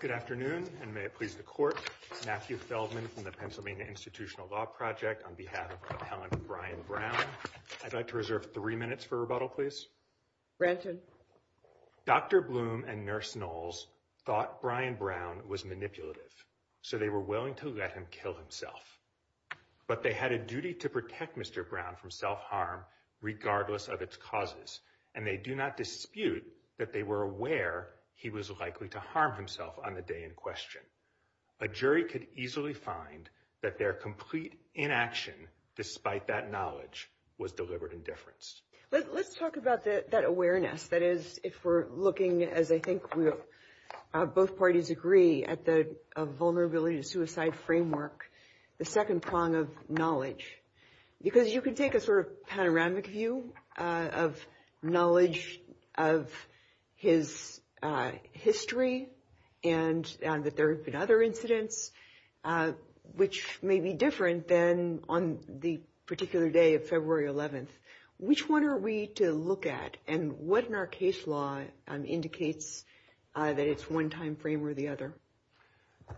Good afternoon and may it please the court. Matthew Feldman from the Pennsylvania Institutional Law Project on behalf of Helen and Brian Brown. I'd like to reserve three minutes for rebuttal, please. Dr. Bloom and Nurse Knowles thought Brian Brown was manipulative, so they were willing to let him kill himself. But they had a duty to protect Mr. Brown from self-harm, regardless of its causes, and they do not dispute that they were aware he was likely to harm himself on the day in question. A jury could easily find that their complete inaction, despite that knowledge, was deliberate indifference. Let's talk about that awareness. That is, if we're looking, as I think both parties agree, at the vulnerability to suicide framework, the second prong of knowledge. Because you can take a sort of panoramic view of knowledge of his history and that there have been other incidents which may be different than on the particular day of February 11th. Which one are we to look at and what in our case law indicates that it's one time frame or the other?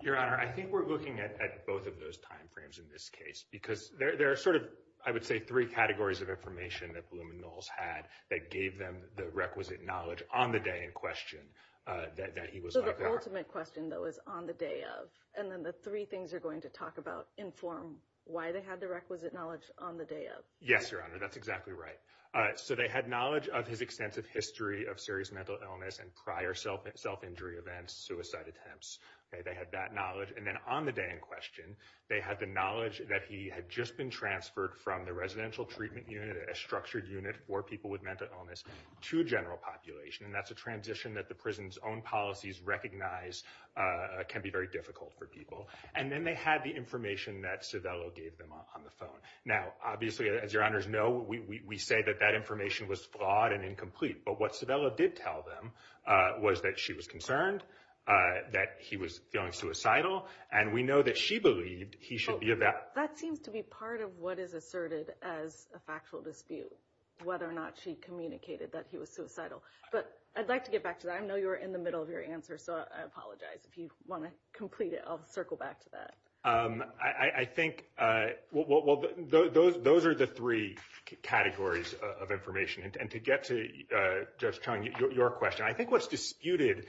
Your Honor, I think we're looking at both of those time frames in this case because there are sort of, I would say, three categories of information that Bloom and Knowles had that gave them the requisite knowledge on the day in question that he was likely to harm himself. So the ultimate question, though, is on the day of. And then the three things you're going to talk about inform why they had the requisite knowledge on the day of. Yes, Your Honor, that's exactly right. So they had knowledge of his extensive history of serious mental illness and prior self-injury events, suicide attempts. They had that knowledge. And then on the day in question, they had the knowledge that he had just been transferred from the Residential Treatment Unit, a structured unit for people with mental illness, to general population. And that's a transition that the prison's own policies recognize can be very difficult for people. And then they had the information that Civello gave them on the phone. Now, obviously, as Your Honor's know, we say that that information was flawed and incomplete. But what Civello did tell them was that she was concerned, that he was feeling suicidal. And we know that she believed he should be evaluated. That seems to be part of what is asserted as a factual dispute, whether or not she communicated that he was suicidal. But I'd like to get back to that. I know you were in the middle of your answer. So I apologize if you want to complete it. I'll circle back to that. I think well, those are the three categories of information. And to get to, Judge Chung, your question, I think what's disputed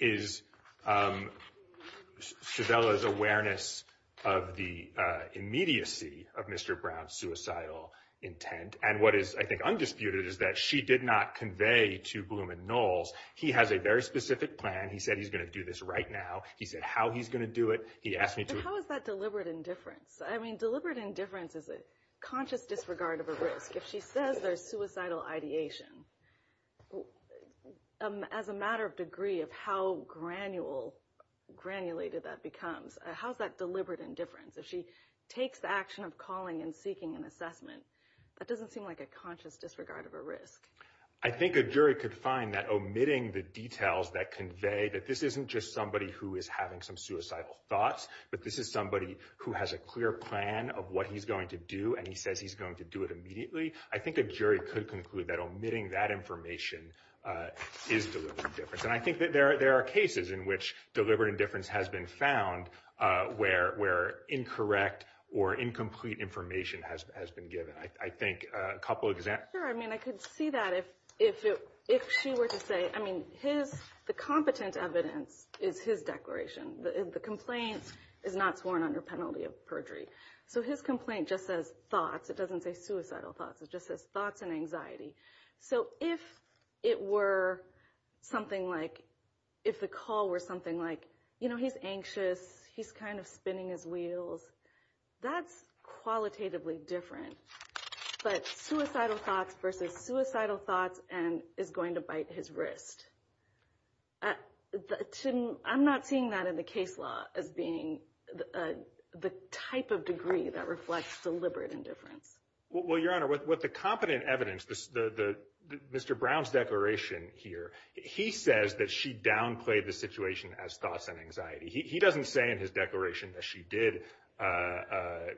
is Civello's awareness of the immediacy of Mr. Brown's suicidal intent. And what is, I think, undisputed is that she did not convey to Blum and Knowles, he has a very specific plan. He said he's going to do this right now. He said how he's going to deliberate indifference. Deliberate indifference is a conscious disregard of a risk. If she says there's suicidal ideation, as a matter of degree of how granulated that becomes, how's that deliberate indifference? If she takes action of calling and seeking an assessment, that doesn't seem like a conscious disregard of a risk. I think a jury could find that omitting the details that convey that this isn't just somebody who is having some suicidal thoughts, but this is somebody who has a clear plan of what he's going to do. And he says he's going to do it immediately. I think a jury could conclude that omitting that information is deliberate indifference. And I think that there are cases in which deliberate indifference has been found where incorrect or incomplete information has been given. I think a couple of examples. Sure. I mean, I could see that if she were to say – I mean, the competent evidence is his declaration. The complaint is not sworn under penalty of perjury. So his complaint just says thoughts. It doesn't say suicidal thoughts. It just says thoughts and anxiety. So if it were something like – if the call were something like, you know, he's anxious, he's kind of spinning his wheels, that's qualitatively different. But suicidal thoughts versus suicidal thoughts is going to bite his wrist. I'm not seeing that in the case law as being the type of degree that reflects deliberate indifference. Well, Your Honor, with the competent evidence, Mr. Brown's declaration here, he says that she downplayed the situation as thoughts and anxiety. He doesn't say in his declaration that she did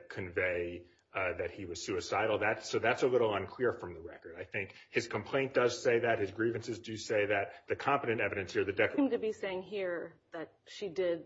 convey that he was suicidal. So that's a little unclear from the record. I think his complaint does say that. His grievances do say that. The competent evidence here – It doesn't seem to be saying here that she did.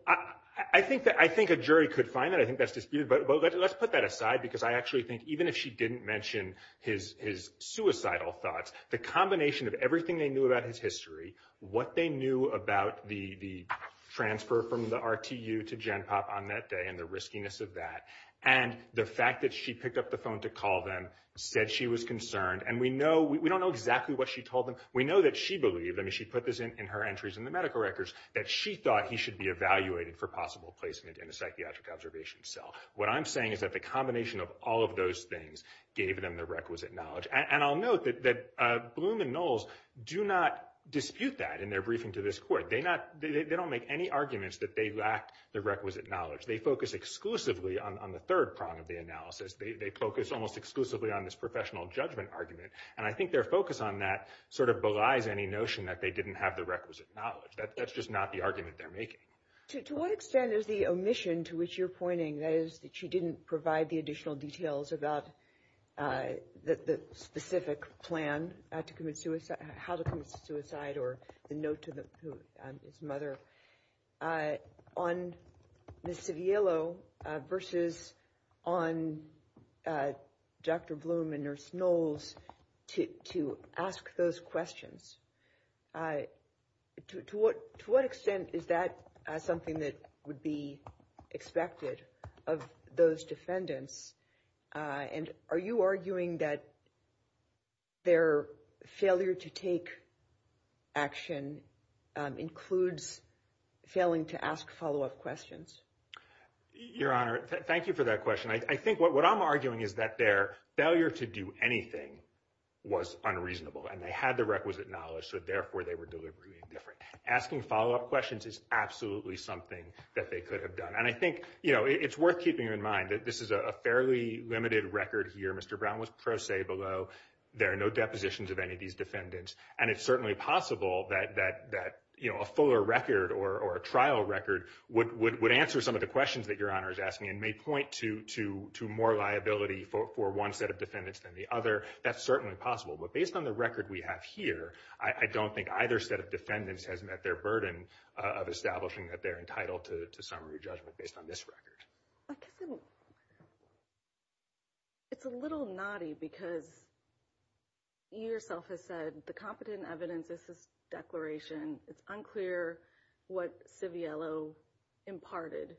I think a jury could find that. I think that's disputed. But let's put that aside because I actually think even if she didn't mention his suicidal thoughts, the combination of everything they knew about his history, what they knew about the transfer from the RTU to GenPOP on that day and the riskiness of that, and the fact that she picked up the phone to call them, said she was concerned. And we don't know exactly what she told them. We know that she believed – I mean, she put this in her entries in the medical records – that she thought he should be evaluated for possible placement in a psychiatric observation cell. What I'm saying is that the combination of all of those things gave them the requisite knowledge. And I'll note that Bloom and Knowles do not dispute that in their briefing to this court. They don't make any arguments that they lacked the requisite knowledge. They focus exclusively on the third prong of the analysis. They focus almost exclusively on this professional judgment argument. And I think their focus on that sort of belies any notion that they didn't have the requisite knowledge. That's just not the argument they're making. To what extent is the omission to which you're pointing – that is, she didn't provide the additional details about the specific plan to commit – how to commit to the plan – on Ms. Saviello versus on Dr. Bloom and Nurse Knowles to ask those questions? To what extent is that something that would be expected of those defendants? And are you arguing that their failure to take action includes failing to ask follow-up questions? Your Honor, thank you for that question. I think what I'm arguing is that their failure to do anything was unreasonable, and they had the requisite knowledge, so therefore, they were deliberately indifferent. Asking follow-up questions is absolutely something that they could have done. And I think it's worth keeping in mind that this is a fairly limited record here. Mr. Brown was pro se below. There are no depositions of any of these defendants. And it's certainly possible that a fuller record or a trial record would answer some of the questions that Your Honor is asking and may point to more liability for one set of defendants than the other. That's certainly possible. But based on the record we have here, I don't think either set of defendants has met their burden of establishing that they're entitled to summary judgment based on this record. Captain, it's a little naughty because you yourself have said the competent evidence of this declaration, it's unclear what Civiello imparted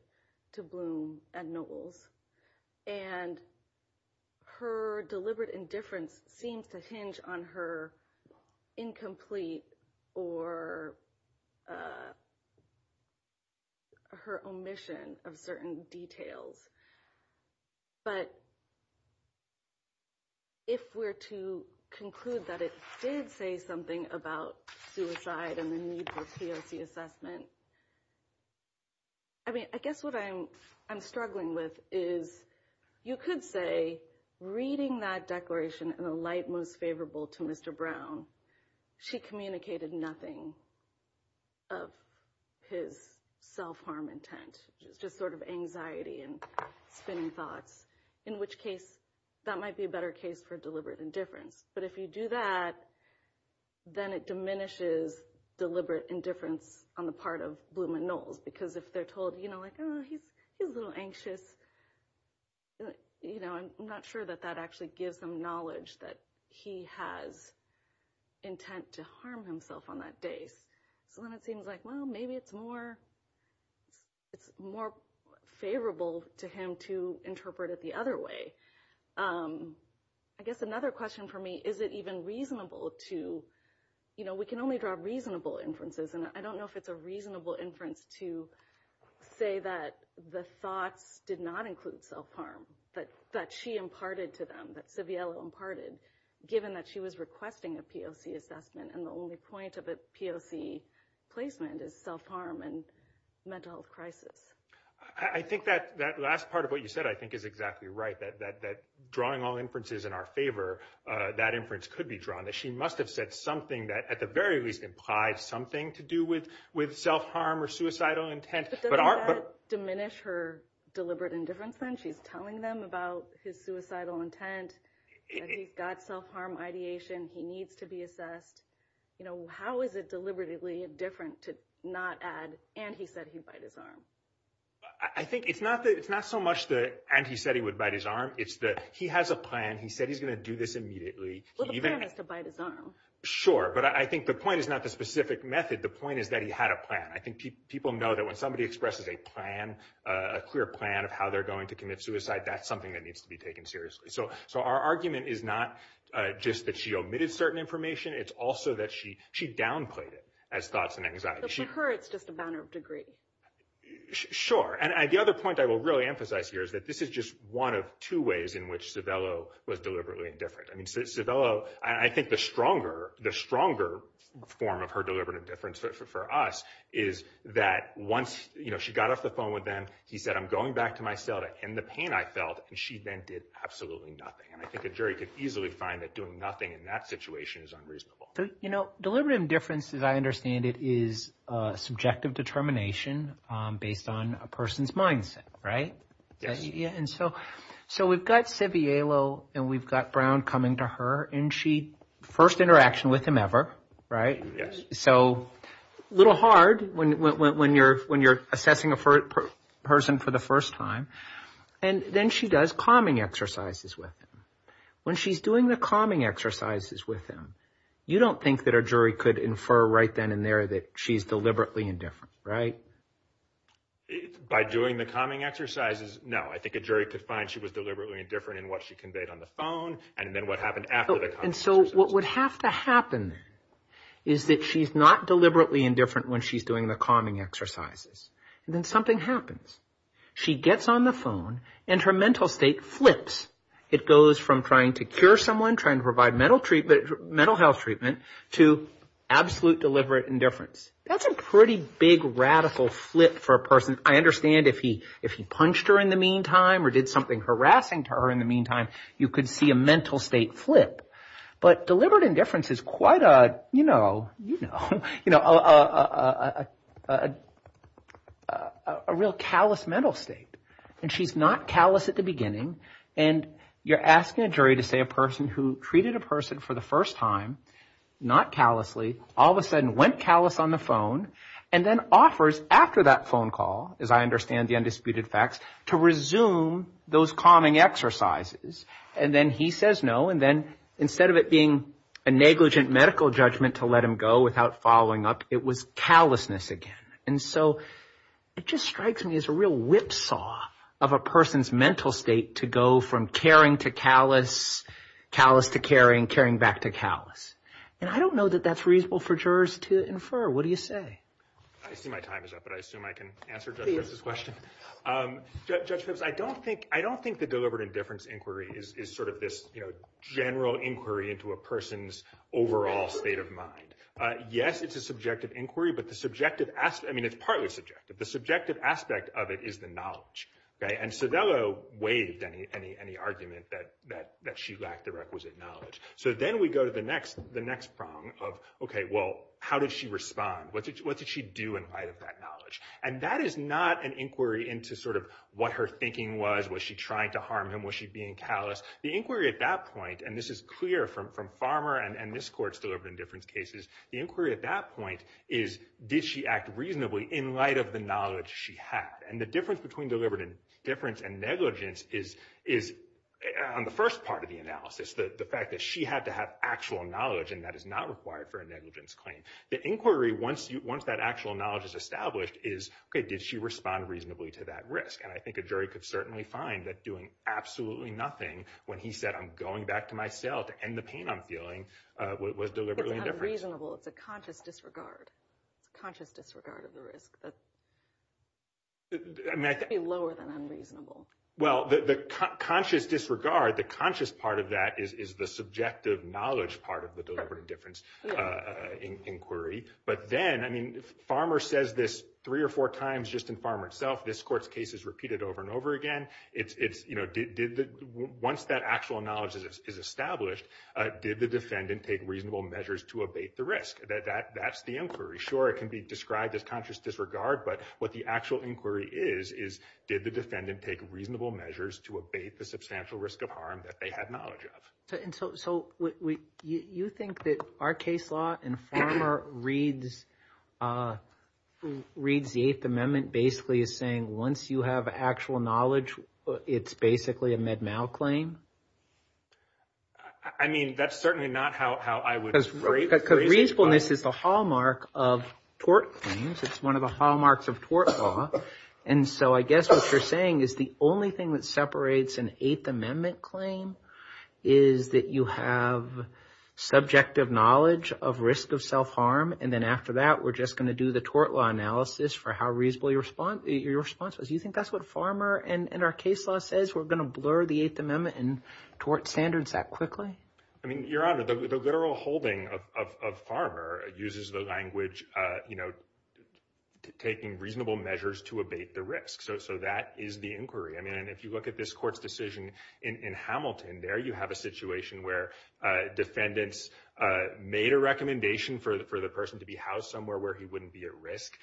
to Bloom and Knowles. And her deliberate indifference seems to hinge on her incomplete or her omission of certain details. But if we're to conclude that it did say something about suicide and the need for POC assessment, I mean, I guess what I'm struggling with is you could say reading that declaration in a light mood favorable to Mr. Brown, she communicated nothing of his self-harm intent, just sort of anxiety and thinking thoughts, in which case that might be a better case for deliberate indifference. But if you do that, then it diminishes deliberate indifference on the part of Bloom and Knowles because if they're told, you know, like, oh, he's a little anxious, you know, I'm not sure that that actually gives them knowledge that he has intent to harm himself on that day. So then it seems like, well, maybe it's more favorable to him to interpret it the other way. I guess another question for me, is it even reasonable to, you know, we can only draw reasonable inferences, and I don't know if a reasonable inference to say that the thought did not include self-harm, but that she imparted to them, that Savielle imparted, given that she was requesting a POC assessment and the only point of a POC placement is self-harm and mental health crisis? I think that last part of what you said, I think, is exactly right, that drawing all inferences in our favor, that inference could be drawn, that she must have said something that at the very least implies something to do with self-harm or suicidal intent. But does that diminish her deliberate indifference when she's telling them about his suicidal intent, that he's got self-harm ideation, he needs to be assessed? You know, how is it deliberately different to not add, and he said he'd bite his arm? I think it's not so much the, and he said he would bite his arm, it's that he has a plan, he said he's going to do this immediately. Well, the plan is to bite his arm. Sure, but I think the point is not the specific method, the point is that he had a plan. I think people know that when somebody expresses a plan, a clear plan of how they're going to commit suicide, that's something that needs to be taken seriously. So our argument is not just that she omitted certain information, it's also that she downplayed it as thoughts and anxiety. But for her, it's just a matter of degree. Sure, and the other point I will really emphasize here is that this is just one of two ways in which Zavella, I think the stronger form of her deliberative difference for us is that once, you know, she got off the phone with them, he said, I'm going back to my cell to end the pain I felt, and she then did absolutely nothing. And I think a jury could easily find that doing nothing in that situation is unreasonable. You know, deliberative difference, as I understand it, is subjective determination based on a person's mindset, right? Yes. And so we've got Zavella, and we've got Brown coming to her, and first interaction with him ever, right? Yes. So a little hard when you're assessing a person for the first time. And then she does calming exercises with him. When she's doing the calming exercises with him, you don't think that a jury could infer right then and there that she's deliberately indifferent, right? By doing the calming exercises? No, I think a jury could find she was deliberately indifferent in what she conveyed on the phone, and then what happened after the calming exercises. And so what would have to happen is that she's not deliberately indifferent when she's doing the calming exercises. And then something happens. She gets on the phone, and her mental state flips. It goes from trying to cure someone, trying to provide mental health treatment, to absolute deliberate indifference. That's a pretty big, radical flip for a person. I understand if he punched her in the meantime or did something harassing to her in the meantime, you could see a mental state flip. But deliberate indifference is quite a, you know, a real callous mental state. And she's not callous at the beginning. And you're asking a jury to say a person who treated a person for the first time, not callously, all of a sudden went callous on the phone, and then offers after that phone call, as I understand the undisputed facts, to resume those calming exercises. And then he says no, and then instead of it being a negligent medical judgment to let him go without following up, it was callousness again. And so it just strikes me as a real whipsaw of a person's mental state to go from caring to callous, callous to caring, caring back to callous. And I don't know that that's reasonable for jurors to infer. What do you say? I see my time is up, but I assume I can answer Judge Pipps' question. Judge Pipps, I don't think the deliberate indifference inquiry is sort of this, you know, general inquiry into a person's overall state of mind. Yes, it's a subjective inquiry, but the subjective aspect, I mean, it's partly subjective. The subjective aspect of it is the knowledge, right? And Cervello waived any argument that she lacked the requisite knowledge. So then we go to the next problem of, okay, well, how did she respond? What did she do in light of that knowledge? And that is not an inquiry into sort of what her thinking was. Was she trying to harm him? Was she being callous? The inquiry at that point, and this is clear from Farmer and this court's deliberate indifference cases, the inquiry at that point is, did she act reasonably in light of the knowledge she had? And the difference between deliberate indifference and negligence is, on the first part of the analysis, the fact that she had to have actual knowledge and that is not required for a negligence claim. The inquiry, once that actual knowledge is established, is, okay, did she respond reasonably to that risk? And I think a jury could certainly find that doing absolutely nothing when he said, I'm going back to myself to end the pain I'm feeling, was deliberate indifference. Conscious disregard. Conscious disregard of the risk. That's lower than unreasonable. Well, the conscious disregard, the conscious part of that is the subjective knowledge part of the deliberate indifference inquiry. But then, I mean, Farmer says this three or four times just in Farmer itself. This court's case is repeated over and over again. Once that actual knowledge is established, did the defendant take reasonable measures to abate the risk? That's the inquiry. Sure, it can be described as conscious disregard, but what the actual inquiry is, is, did the defendant take reasonable measures to abate the substantial risk of harm that they had knowledge of? And so you think that our case law in Farmer reads the Eighth Amendment basically as saying, once you have actual knowledge, it's basically a Med-Mal claim? I mean, that's certainly not how I would rate. Because reasonableness is the hallmark of tort claims. It's one of the hallmarks of tort law. And so I guess what you're saying is the only thing that separates an Eighth Amendment claim is that you have subjective knowledge of risk of self-harm. And then after that, we're just going to do the tort law analysis for how your response is. You think that's what Farmer and our case law says? We're going to blur the Eighth Amendment and tort standards that quickly? I mean, Your Honor, the literal holding of Farmer uses the language, you know, taking reasonable measures to abate the risk. So that is the inquiry. I mean, if you look at this court's decision in Hamilton, there you have a situation where defendants made a recommendation for the person to be housed somewhere where he wouldn't be at risk.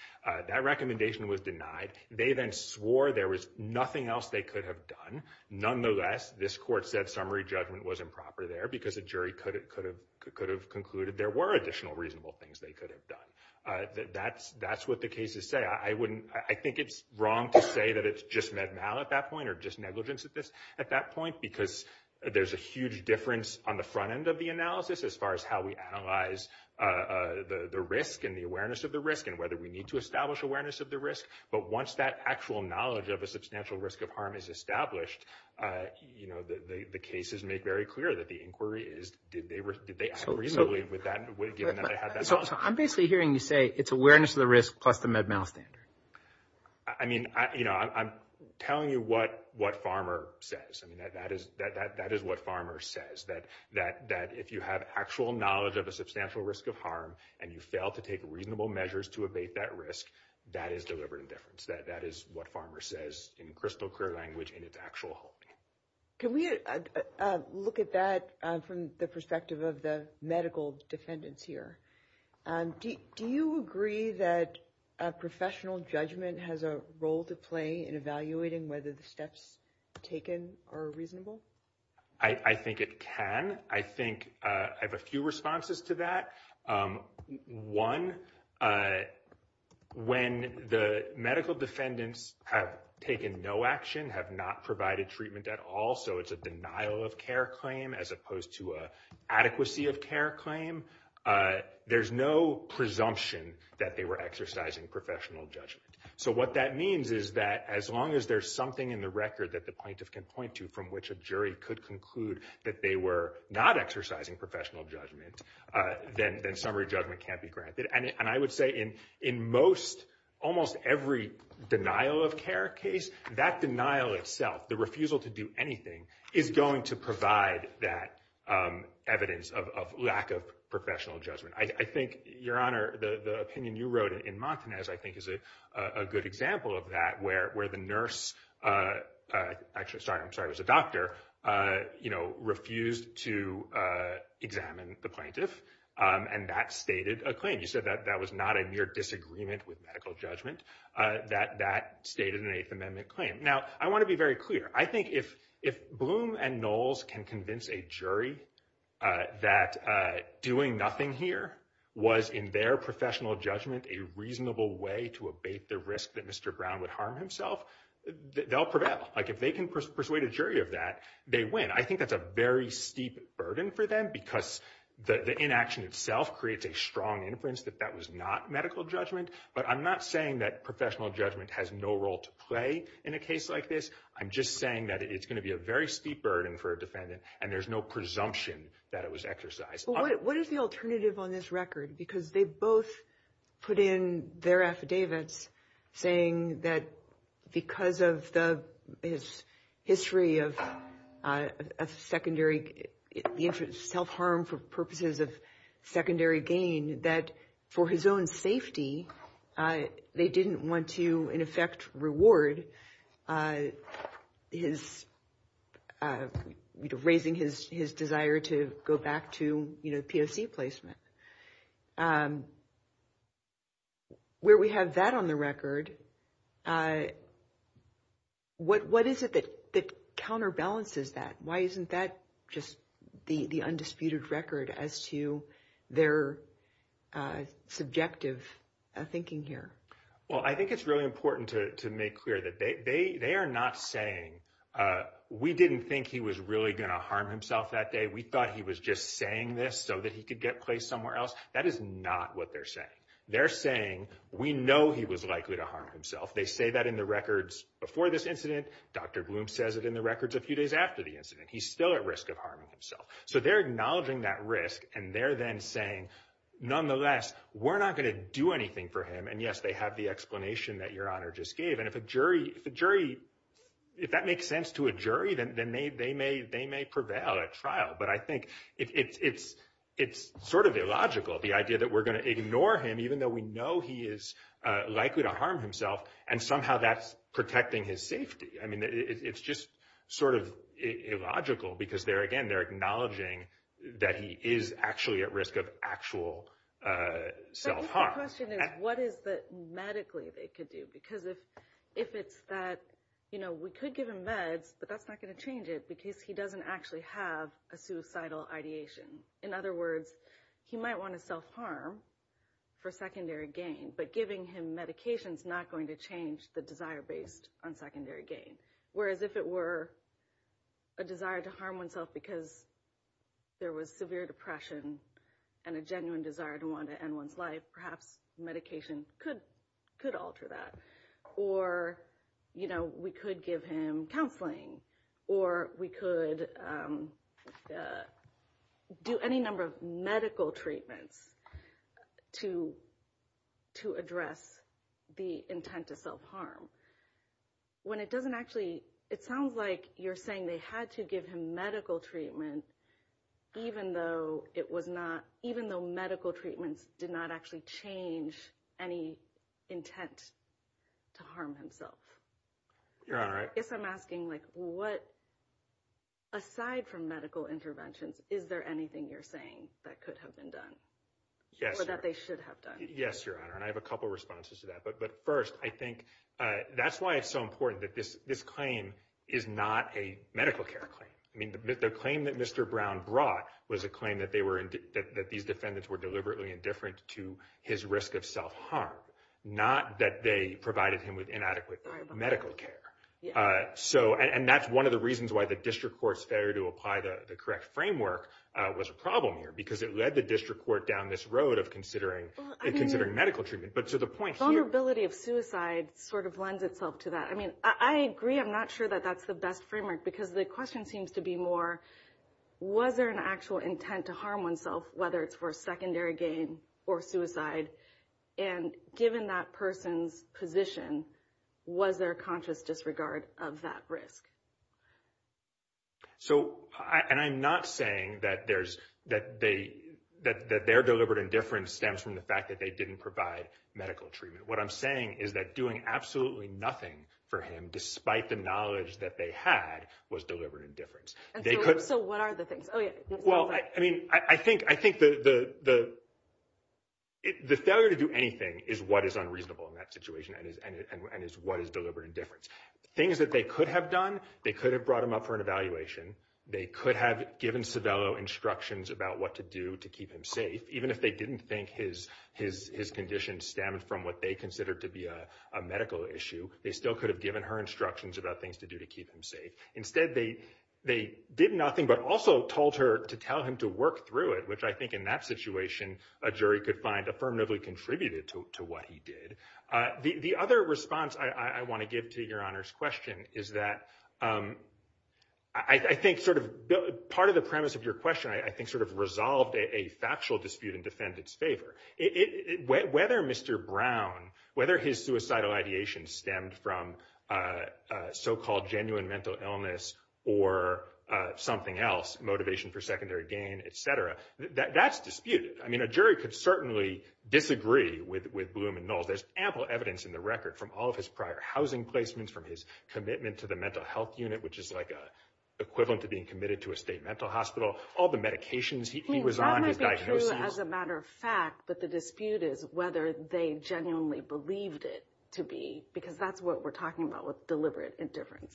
That recommendation was denied. They then swore there was nothing else they could have done. Nonetheless, this court said summary judgment was improper there because the jury could have concluded there were additional reasonable things they could have done. That's what the cases say. I think it's wrong to say that it's just Med-Mal at that point or just negligence at that point because there's a huge difference on the front end of the analysis as far as how we analyze the risk and the awareness of the risk and whether we need to establish awareness of the risk. But once that actual knowledge of a substantial risk of harm is established, you know, the cases make very clear that the inquiry is, did they have a reason with that? I'm basically hearing you say it's awareness of the risk plus the Med-Mal standard. I mean, you know, I'm telling you what Farmer says. I mean, that is what Farmer says, that if you have actual knowledge of a substantial risk of harm and you fail to take reasonable measures to evade that risk, that is deliberate indifference. That is what Farmer says in crystal clear language in its actual holding. Can we look at that from the perspective of the medical defendants here? Do you agree that professional judgment has a role to play in evaluating whether the steps taken are reasonable? I think it can. I have a few responses to that. One, when the medical defendants have taken no action, have not provided treatment at all, so it's a denial of care claim as opposed to an adequacy of care claim, there's no presumption that they were exercising professional judgment. So what that means is that as long as there's something in the record that the plaintiff can point to from which a jury could conclude that they were not exercising professional judgment, then summary judgment can't be granted. And I would say in most, almost every denial of care case, that denial itself, the refusal to do anything is going to provide that evidence of lack of professional judgment. I think, Your Honor, the opinion you wrote in Martinez, I think is a good example of that, where the nurse, actually, sorry, I'm sorry, it was a doctor, you know, refused to examine the plaintiff, and that stated a claim. You said that that was not a mere disagreement with medical judgment, that that stated an Eighth Amendment claim. Now, I want to be very clear. I think if Bloom and Knowles can convince a jury that doing nothing here was, in their professional judgment, a reasonable way to abate the risk that Mr. Brown would harm himself, they'll prevail. Like, if they can persuade a jury of that, they win. I think that's a very steep burden for them because the inaction itself creates a strong inference that that was not medical judgment. But I'm not saying that professional judgment has no role to play in a case like this. I'm just saying that it's going to be a very steep burden for a defendant, and there's no presumption that it was exercised. What is the alternative on this record? Because they both put in their affidavits saying that because of the history of secondary, the infant's self-harm for purposes of secondary gain, that for his own safety, they didn't want to, in effect, reward raising his desire to go back to PSD placement. Where we have that on the record, what is it that counterbalances that? Why isn't that just the undisputed record as to their subjective thinking here? Well, I think it's really important to make clear that they are not saying, we didn't think he was really going to harm himself that day. We thought he was just saying this so that he could get placed somewhere else. That is not what they're saying. They're saying, we know he was likely to harm himself. They say that in the records before this incident. Dr. Bloom says it in the records a few days after the incident. He's still at risk of harming himself. They're acknowledging that risk. They're then saying, nonetheless, we're not going to do anything for him. Yes, they have the explanation that Your Honor just gave. If that makes sense to a jury, then they may prevail at trial. I think it's illogical, the idea that we're going to ignore him even though we know he is likely to harm himself. Somehow, that's protecting his safety. It's just sort of illogical because, again, they're acknowledging that he is actually at risk of actual self-harm. I think the question is, what is it medically they could do? We could give him meds, but that's not going to change it because he doesn't actually have a suicidal ideation. In other words, he might want to self-harm for secondary gain, but giving him medication is not going to change the desire based on secondary gain. Whereas, if it were a desire to harm oneself because there was severe depression and a genuine desire to want to end one's life, perhaps medication could alter that. Or we could give him counseling, or we could just do any number of medical treatments to address the intent of self-harm. When it doesn't actually, it sounds like you're saying they had to give him medical treatment even though it was not, even though medical treatment did not actually change any intent to harm himself. Your Honor, if I'm asking, aside from medical interventions, is there anything you're saying that could have been done or that they should have done? Yes, Your Honor, and I have a couple of responses to that. But first, I think that's why it's so important that this claim is not a medical care claim. The claim that Mr. Brown brought was a claim that these defendants were deliberately indifferent to his risk of self-harm, not that they provided him with inadequate medical care. And that's one of the reasons why the district court's failure to apply the correct framework was a problem here, because it led the district court down this road of considering medical treatment. Vulnerability of suicide sort of lends itself to that. I mean, I agree. I'm not sure that that's the best framework, because the question seems to be more, was there an actual intent to harm whether it's for secondary gain or suicide? And given that person's position, was there conscious disregard of that risk? So, and I'm not saying that their deliberate indifference stems from the fact that they didn't provide medical treatment. What I'm saying is that doing absolutely nothing for him, despite the knowledge that they had, was deliberate indifference. So what are the things? Oh, yeah. Well, I mean, I think the failure to do anything is what is unreasonable in that situation and is what is deliberate indifference. Things that they could have done, they could have brought him up for an evaluation. They could have given Savello instructions about what to do to keep him safe. Even if they didn't think his condition stemmed from what they considered to be a medical issue, they still could have given her instructions about things to do to keep him safe. Instead, they did nothing, but also told her to tell him to work through it, which I think in that situation, a jury could find affirmatively contributed to what he did. The other response I want to give to Your Honor's question is that I think sort of part of the premise of your question, I think sort of resolved a factual dispute in defendant's favor. Whether Mr. Brown, whether his suicidal ideation stemmed from so-called genuine mental illness or something else, motivation for secondary gain, et cetera, that's disputed. I mean, a jury could certainly disagree with Bloom and Null. There's ample evidence in the record from all of his prior housing placements, from his commitment to the mental health unit, which is like equivalent to being committed to a state mental hospital, all the medications he was on, his diagnosis. Well, it might be true as a matter of fact, that the dispute is whether they genuinely believed it to be, because that's what we're talking about with deliberate indifference.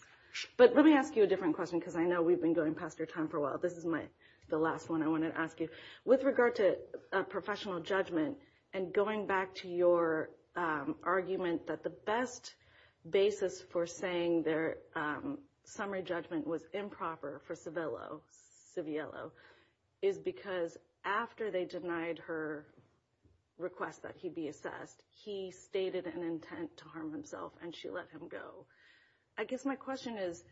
But let me ask you a different question, because I know we've been going past your time for a while. This is the last one I want to ask you. With regard to professional judgment, and going back to your argument that the best basis for saying their summary judgment was improper for Civiello is because after they denied her request that he be assessed, he stated an intent to harm himself and she let him go. I guess my question is,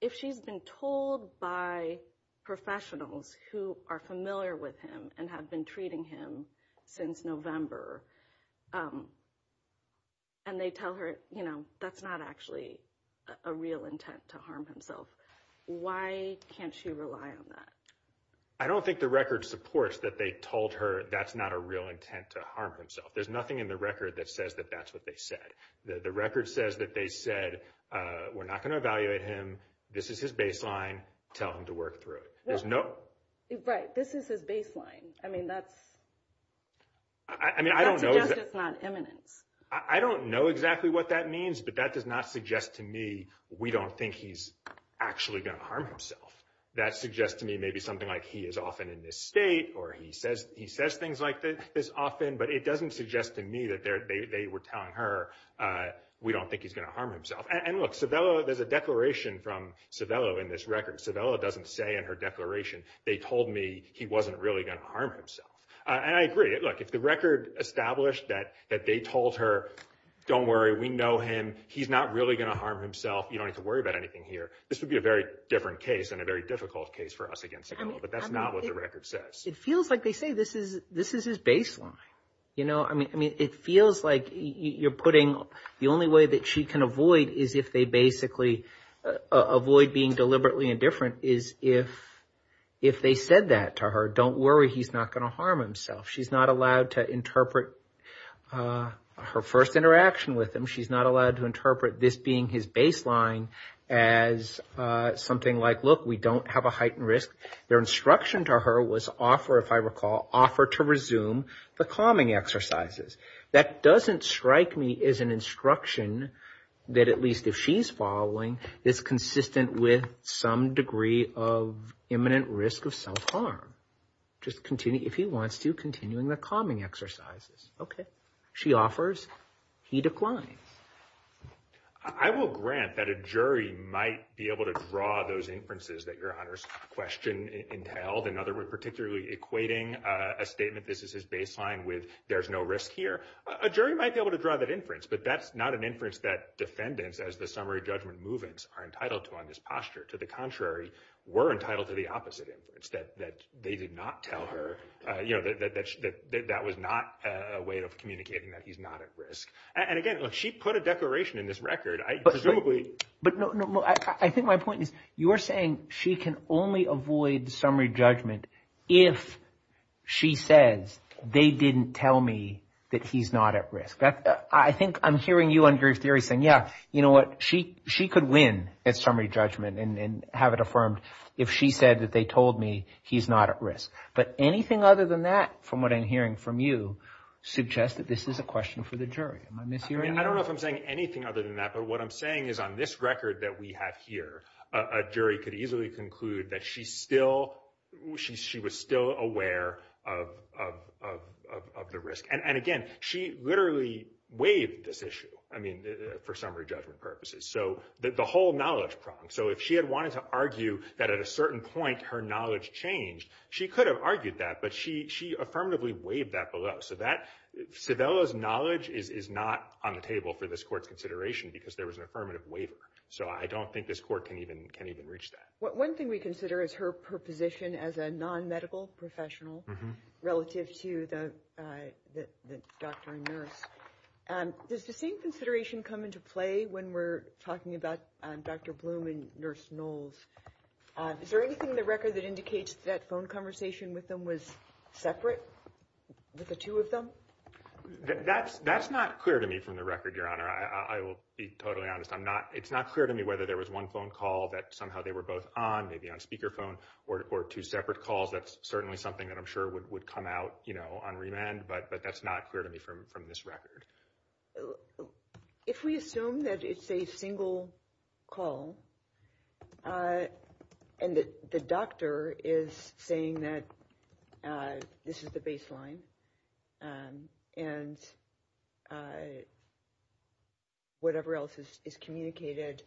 if she's been told by professionals who are familiar with him and have been treating him since November, and they tell her, you know, that's not actually a real intent to harm himself, why can't she rely on that? I don't think the record supports that they told her that's not a real intent to harm himself. There's nothing in the record that says that that's what they said. The record says that they said, we're not going to evaluate him, this is his baseline, tell him to work through it. Right, this is the baseline. I mean, that's not imminent. I don't know exactly what that means, but that does not suggest to me, we don't think he's actually going to harm himself. That suggests to me maybe something like he is often in this state or he says things like this often, but it doesn't suggest to me that they were telling her, we don't think he's going to harm himself. And look, Civiello, there's a declaration from Civiello in this record. Civiello doesn't say in her declaration, they told me he wasn't really going to harm himself. And I agree, look, if the record established that they told her, don't worry, we know him, he's not really going to harm himself, you don't have to worry about anything here, this would be a very different case and a very difficult case for us against Civiello, but that's not what the record says. It feels like they say this is his baseline. You know, I mean, it feels like you're putting, the only way that she can avoid is if they basically avoid being deliberately indifferent is if they said that to her, don't worry, he's not going to harm himself. She's not allowed to interpret her first interaction with him. She's not allowed to interpret this being his baseline as something like, look, we don't have a heightened risk. Their instruction to her was offer, if I recall, offer to resume the calming exercises. That doesn't strike me as an instruction that at least if she's following, it's consistent with some degree of imminent risk of self-harm. Just continue, if he wants to, continuing the calming exercises. Okay. She offers, he declined. I will grant that a jury might be able to draw those inferences that your Honor's question entailed. In other words, particularly equating a statement, this is his baseline with there's no risk here. A jury might be able to draw that inference, but that's not an inference that defendants as the summary judgment movements are entitled to on this posture. To the contrary, were entitled to the opposite inference that they did not tell her, you know, that that was not a way of communicating that he's not at risk. And again, if she put a declaration in this record, I presumably, but no, no, no. I think my point is you were saying she can only avoid summary judgment if she says they didn't tell me that he's not at risk. I think I'm hearing you on your theory saying, yeah, you know what? She, she could win at summary judgment and have it affirmed if she said that they told me he's not at risk, but anything other than that, from what I'm hearing from you suggest that this is a question for the jury. I don't know if I'm saying anything other than that, but what I'm saying is on this record that we have here, a jury could easily conclude that she's still, she was still aware of the risk. And again, she literally waived this issue. I mean, for summary judgment purposes. So the whole knowledge problem. So if she had wanted to argue that at a certain point, her knowledge changed, she could have argued that, but she affirmatively waived that below. So that, Savella's knowledge is not on the table for this court consideration because there was an affirmative waiver. So I don't think this court can even, can even reach that. One thing we consider is her position as a non-medical professional relative to the doctor and nurse. Does the same consideration come into play when we're talking about Dr. Bloom and Nurse Knowles? Is there anything in the record that indicates that phone conversation with them was separate with the two of them? That's not clear to me from the record, Your Honor. I will be totally honest. I'm not, it's not clear to me whether there was one phone call that somehow they were both on, maybe on speakerphone or two separate calls. That's certainly something that I'm sure would come out, you know, on remand, but that's not clear to me from this record. If we assume that it's a single call and the doctor is saying that this is the baseline and whatever else is communicated,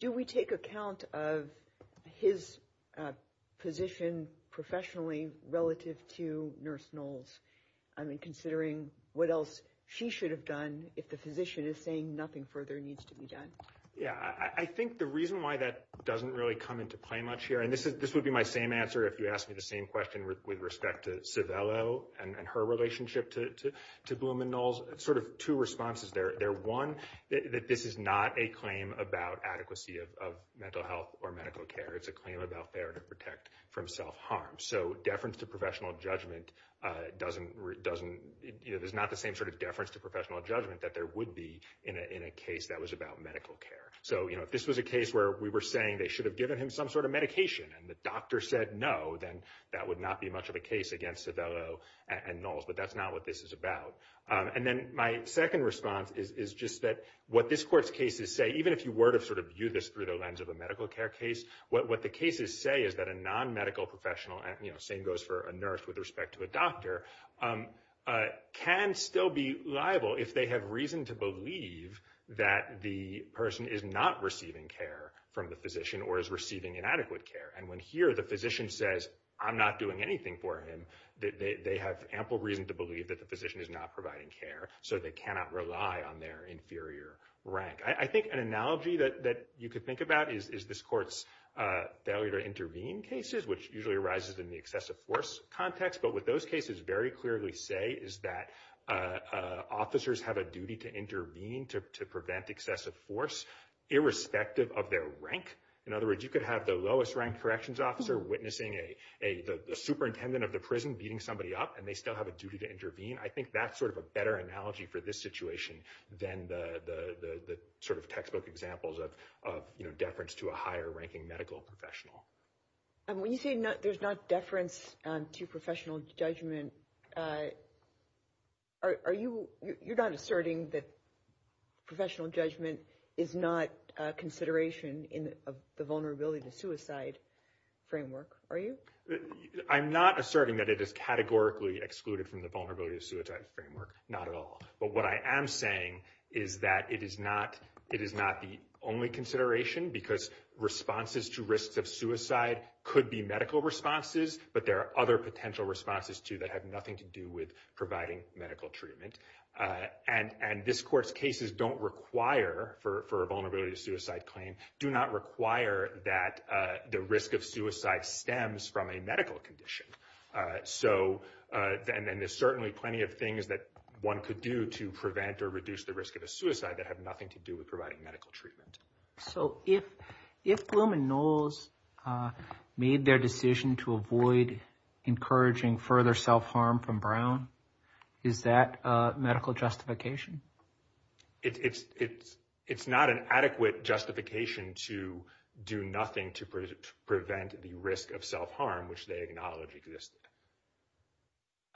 do we take account of his position professionally relative to Nurse Knowles? I mean, considering what else she should have done if the physician is saying nothing further needs to be done? Yeah, I think the reason why that doesn't really come into play much here, and this would be my same answer if you asked me the same question with respect to Civello and her relationship to Bloom and Knowles, sort of two responses there. One, that this is not a claim about adequacy of mental health or medical care. It's a claim about fair to protect from self-harm. So, deference to professional judgment doesn't, you know, there's not the same sort of deference to professional judgment that there would be in a case that was about medical care. So, you know, if this was a case where we were saying they should have given him some sort of medication and the doctor said no, then that would not be much of a case against Civello and Knowles, but that's not what this is about. And then my second response is just that what this court's cases say, even if you were to sort of view this through the lens of a medical care case, what the cases say is that a non-medical professional, you know, same goes for a nurse with respect to a doctor, can still be liable if they have reason to believe that the person is not receiving care from the physician or is receiving inadequate care. And when here the physician says, I'm not doing anything for him, that they have ample reason to believe that the physician is not providing care, so they cannot rely on their inferior rank. I think an analogy that you could think about is this court's failure to intervene cases, which usually arises in the excessive force context. But what those cases very clearly say is that officers have a duty to intervene to prevent excessive force, irrespective of their rank. In other words, you could have the lowest-ranked corrections officer witnessing a superintendent of the prison beating somebody up, and they still have a duty to intervene. I think that's sort of a better analogy for this situation than the sort of textbook examples of, you know, deference to a higher-ranking medical professional. And when you say there's not deference to professional judgment, are you, you're not asserting that professional judgment is not a consideration in the vulnerability to suicide framework, are you? I'm not asserting that it is categorically excluded from the vulnerability to suicide framework, not at all. But what I am saying is that it is not, it is not the only consideration, because responses to risks of suicide could be medical responses, but there are other potential responses too that have nothing to do with providing medical treatment. And this court's cases don't require for a vulnerability to suicide claim, do not require that the risk of suicide stems from a medical condition. So, and there's certainly plenty of things that one could do to prevent or reduce the risk of a suicide that have nothing to do with providing medical treatment. So if Blum and Knowles made their decision to avoid encouraging further self-harm from Brown, is that a medical justification? It's, it's, it's not an adequate justification to do nothing to prevent the risk of self-harm, which they acknowledge existed.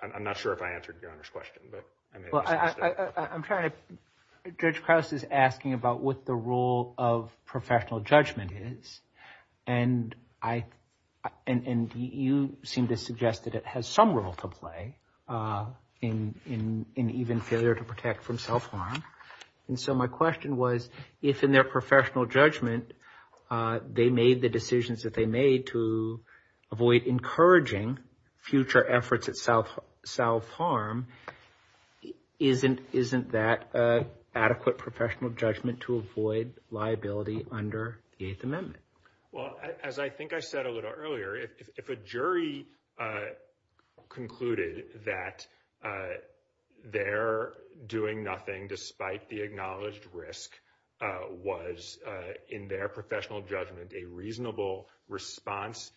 I'm not sure if I answered your question, but I'm trying to. Judge Krauss is asking about what the role of professional judgment is, and I, and you seem to suggest that it has some role to play in, in, in even failure to protect from self-harm. And so my question was, if in their professional judgment they made the decisions that they made to avoid encouraging future efforts at self, self-harm, isn't, isn't that an adequate professional judgment to avoid liability under the Eighth Amendment? Well, as I think I said a jury concluded that their doing nothing despite the acknowledged risk was in their professional judgment, a reasonable response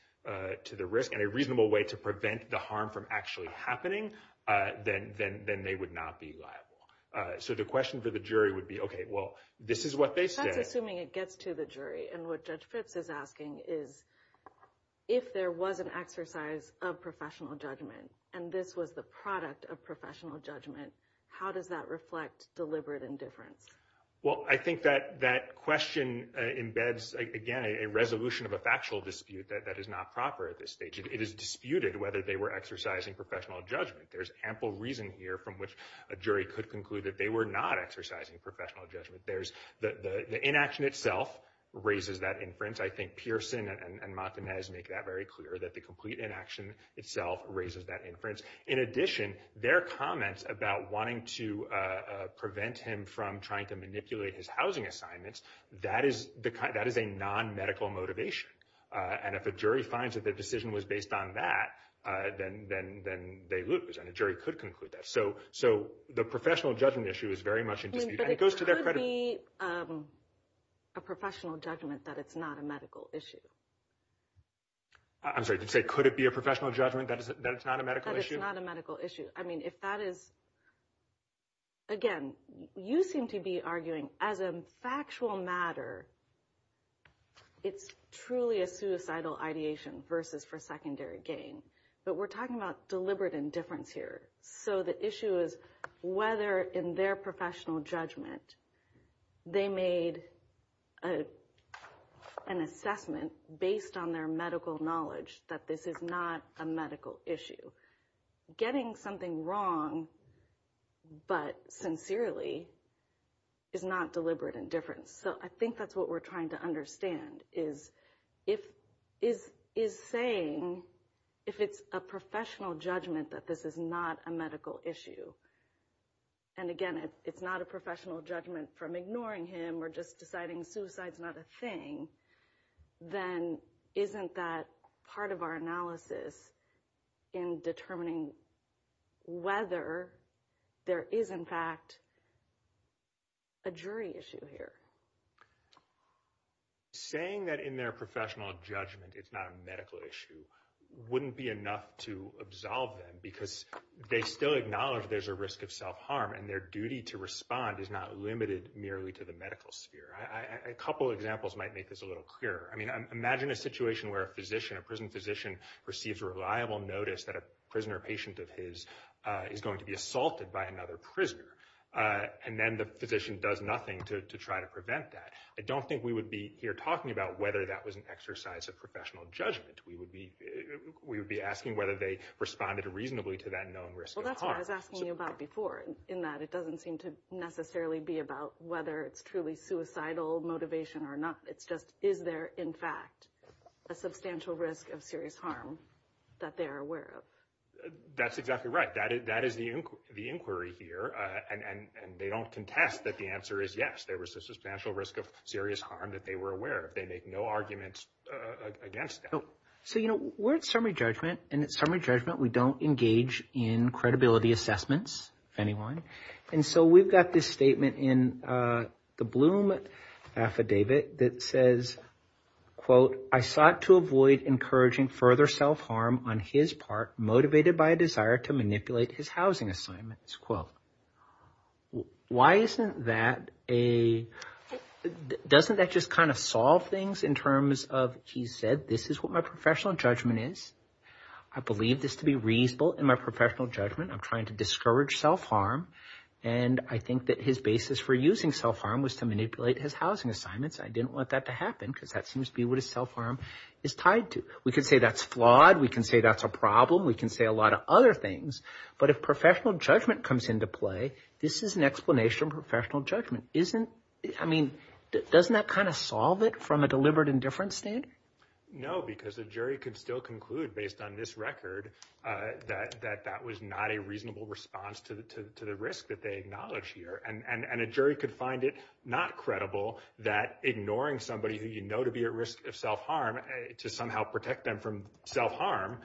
to the risk and a reasonable way to prevent the harm from actually happening, then, then, then they would not be liable. So the question for the jury would be, okay, well, this is what they say. I'm assuming it gets to the jury. And what of professional judgment? And this was the product of professional judgment. How does that reflect deliberate indifference? Well, I think that that question embeds, again, a resolution of a factual dispute that that is not proper at this stage. It is disputed whether they were exercising professional judgment. There's ample reason here from which a jury could conclude that they were not exercising professional judgment. There's the inaction raises that inference. I think Pearson and Martinez make that very clear that the complete inaction itself raises that inference. In addition, their comments about wanting to prevent him from trying to manipulate his housing assignments, that is the kind, that is a non-medical motivation. And if a jury finds that the decision was based on that, then, then, then they lose and a jury could conclude that. So, so the professional judgment issue is very much in dispute and it goes to their credit. Could it be a professional judgment that it's not a medical issue? I'm sorry, could it be a professional judgment that it's not a medical issue? That it's not a medical issue. I mean, if that is, again, you seem to be arguing as a factual matter, it's truly a suicidal ideation versus for secondary gain. But we're talking about deliberate indifference here. So the issue is whether in their professional judgment they made an assessment based on their medical knowledge that this is not a medical issue. Getting something wrong, but sincerely, is not deliberate indifference. So I think that's what we're trying to understand is if, is, is saying if it's a professional judgment that this is not a medical issue. And again, if it's not a professional judgment from ignoring him or just deciding suicide's not a thing, then isn't that part of our analysis in determining whether there is in fact a jury issue here? Saying that in their professional judgment, it's not a medical issue wouldn't be enough to absolve them because they still acknowledge there's a risk of self-harm and their duty to respond is not limited merely to the medical sphere. A couple of examples might make this a little clearer. I mean, imagine a situation where a physician, a prison physician receives a reliable notice that a prisoner patient of his is going to be assaulted by another prisoner. And then the physician does nothing to try to prevent that. I don't think we would be here talking about whether that was an exercise of professional judgment. We would be, we would be asking whether they responded reasonably to that known risk. Well, that's what I was asking you about before in that it doesn't seem to necessarily be about whether it's truly suicidal motivation or not. It's just, is there in fact a substantial risk of serious harm that they are aware of? That's exactly right. That is the inquiry here. And they don't contest that the answer is yes, there was a substantial risk of serious harm that they were aware of. They make no argument against that. So, you know, we're at summary judgment and at summary judgment, we don't engage in credibility assessments, if anyone. And so we've got this statement in the Bloom affidavit that says, quote, I sought to avoid encouraging further self-harm on his part motivated by a housing assignment. Why isn't that a, doesn't that just kind of solve things in terms of, he said, this is what my professional judgment is. I believe this to be reasonable in my professional judgment. I'm trying to discourage self-harm. And I think that his basis for using self-harm was to manipulate his housing assignments. I didn't want that to happen because that seems to be what his self-harm is tied to. We can say that's flawed. We can say that's a problem. We can say a lot of other things, but if professional judgment comes into play, this is an explanation of professional judgment. Isn't, I mean, doesn't that kind of solve it from a deliberate indifference state? No, because the jury can still conclude based on this record that that was not a reasonable response to the risk that they acknowledge here. And a jury could find it not credible that ignoring somebody who you know to be at risk of to somehow protect them from self-harm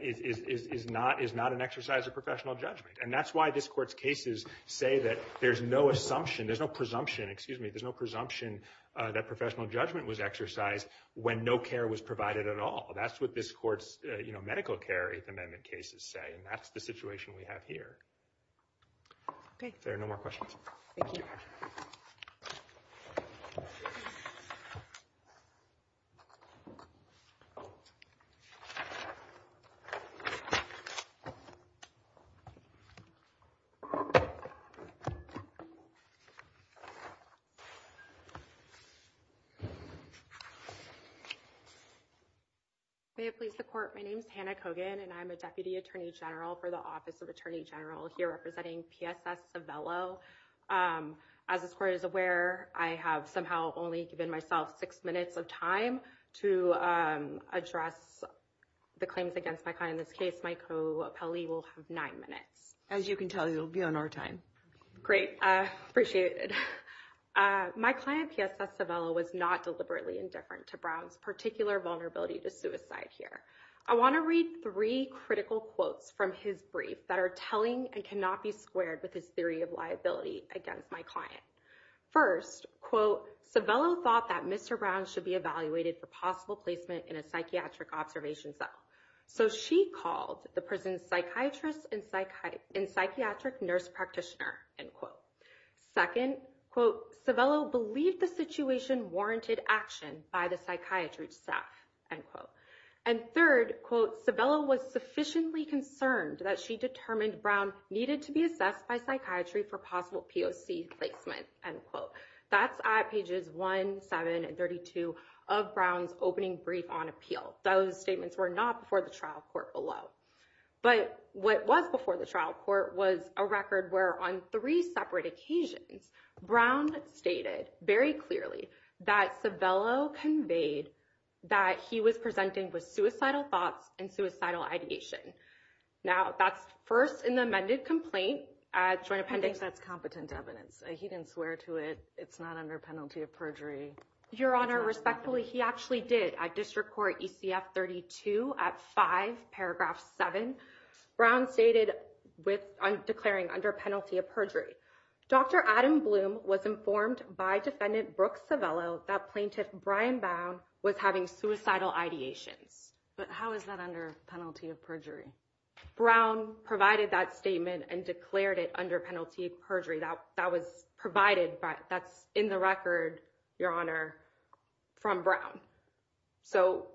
is not an exercise of professional judgment. And that's why this court's cases say that there's no assumption, there's no presumption, excuse me, there's no presumption that professional judgment was exercised when no care was provided at all. That's what this court's medical care amendment cases say. And that's the situation we have here. Okay. There are no more questions. Thank you. May I please report? My name is Hannah Kogan and I'm a Deputy Attorney General for the Office of the Attorney General here representing PSS Savello. As this court is aware, I have somehow only given myself six minutes of time to address the claims against my client. In this case, my co-appellee will have nine minutes. As you can tell, you'll be on our time. Great. I appreciate it. My client, PSS Savello, was not deliberately indifferent to Brown's particular vulnerability to suicide here. I want to read three critical quotes from his brief that are telling and cannot be squared with his theory of liability against my client. First, quote, Savello thought that Mr. Brown should be evaluated for possible placement in a psychiatric observation cell. So she called the prison's psychiatrist and psychiatric nurse practitioner, end quote. Second, quote, Savello believed the situation warranted action by the psychiatrist end quote. And third, quote, Savello was sufficiently concerned that she determined Brown needed to be assessed by psychiatry for possible POC placement, end quote. That's at pages 1, 7, and 32 of Brown's opening brief on appeals. Those statements were not before the trial court below. But what was before the trial court was a record where on three separate occasions, Brown stated very clearly that Savello conveyed that he was presenting with suicidal thoughts and suicidal ideation. Now, that's first in the amended complaint. I think that's competent evidence. He didn't swear to it. It's not under penalty of perjury. Your Honor, respectfully, he actually did at District Court ECF 32 at 5 paragraph 7. Brown stated with declaring under penalty of perjury. Dr. Adam Bloom was informed by defendant Brooke Savello that plaintiff Brian Bowne was having suicidal ideation. But how is that under penalty of perjury? Brown provided that statement and declared it under penalty of perjury. That was provided. That's in the record, Your Honor, from Brown. So